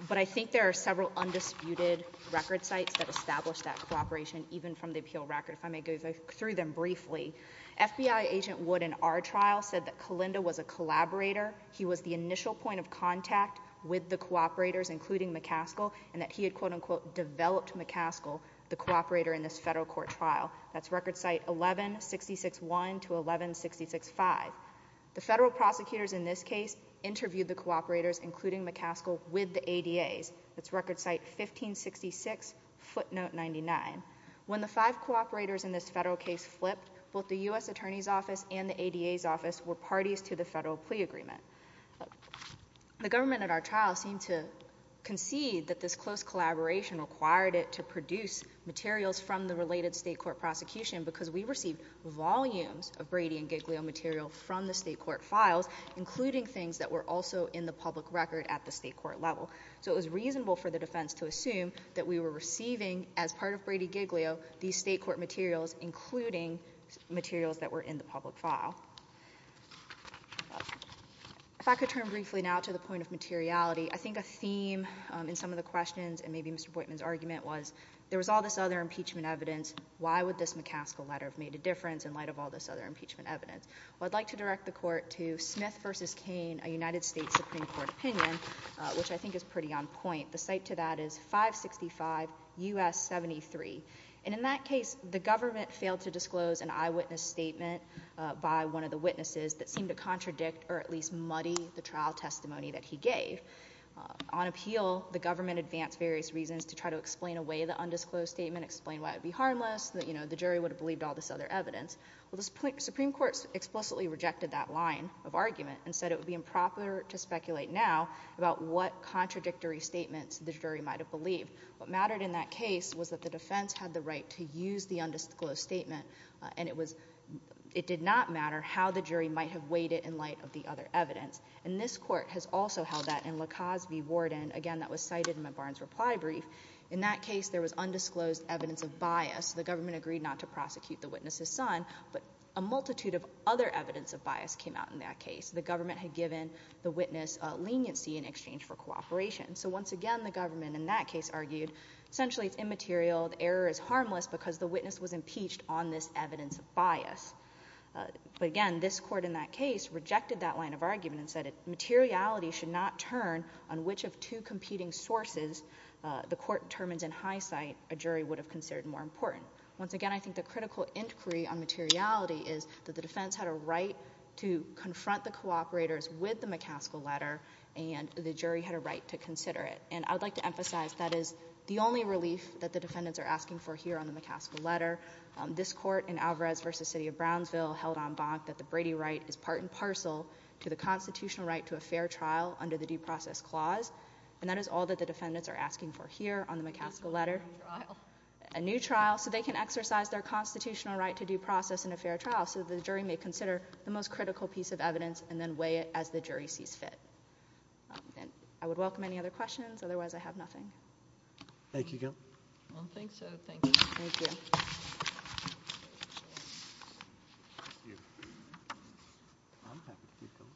but I think there are several undisputed record sites that established that cooperation even from the appeal record. If I may go through them briefly, FBI agent Wood in our trial said that Kalinda was a collaborator. He was the initial point of contact with the cooperators including McCaskill and that he had quote unquote developed McCaskill, the cooperator in this federal court file. That's record site 11661 to 11665. The federal prosecutors in this case interviewed the cooperators including McCaskill with the record site 1566 footnote 99. When the five cooperators in this federal case flipped, both the U.S. attorney's office and the ADA's office were parties to the federal plea agreement. The government at our trial seemed to concede that this close collaboration required it to produce materials from the related state court prosecution because we received volumes of Brady and Giglio material from the state court files including things that were also in the public record at the state court level. So it was reasonable for the defense to assume that we were receiving as part of Brady-Giglio these state court materials including materials that were in the public file. If I could turn briefly now to the point of materiality, I think a theme in some of the questions and maybe Mr. Boynton's argument was there was all this other impeachment evidence, why would this McCaskill letter have made a difference in light of all this other impeachment evidence? Well, I'd like to direct the court to Smith v. Kane, a United States Supreme Court opinion which I think is pretty on point. The cite to that is 565 U.S. 73. And in that case, the government failed to disclose an eyewitness statement by one of the witnesses that seemed to contradict or at least muddy the trial testimony that he gave. On appeal, the government advanced various reasons to try to explain away the undisclosed statement, explain why it would be harmless, the jury would have believed all this other evidence. Well, the Supreme Court explicitly rejected that line of argument and said it would be about what contradictory statements the jury might have believed. What mattered in that case was that the defense had the right to use the undisclosed statement and it did not matter how the jury might have weighed it in light of the other evidence. And this court has also held that in Lacaze v. Warden, again, that was cited in the Barnes reply brief. In that case, there was undisclosed evidence of bias. The government agreed not to prosecute the witness's son but a multitude of other evidence of bias came out in that case. The government had given the witness leniency in exchange for cooperation. So once again, the government in that case argued essentially it's immaterial, the error is harmless because the witness was impeached on this evidence of bias. Again, this court in that case rejected that line of argument and said materiality should not turn on which of two competing sources the court determined in hindsight a jury would have considered more important. Once again, I think the critical inquiry on materiality is that the defense had a right to confront the cooperators with the McCaskill letter and the jury had a right to consider it. And I would like to emphasize that is the only release that the defendants are asking for here on the McCaskill letter. This court in Alvarez v. City of Brownsville held on bond that the Brady right is part and parcel to the constitutional right to a fair trial under the due process clause. And that is all that the defendants are asking for here on the McCaskill letter. A new trial. A new trial so they can exercise their constitutional right to due process in a fair trial so the most critical piece of evidence and then weigh it as the jury sees fit. I would welcome any other questions. Otherwise, I have nothing. Thank you, Gail. I don't think so. Thank you. Thank you.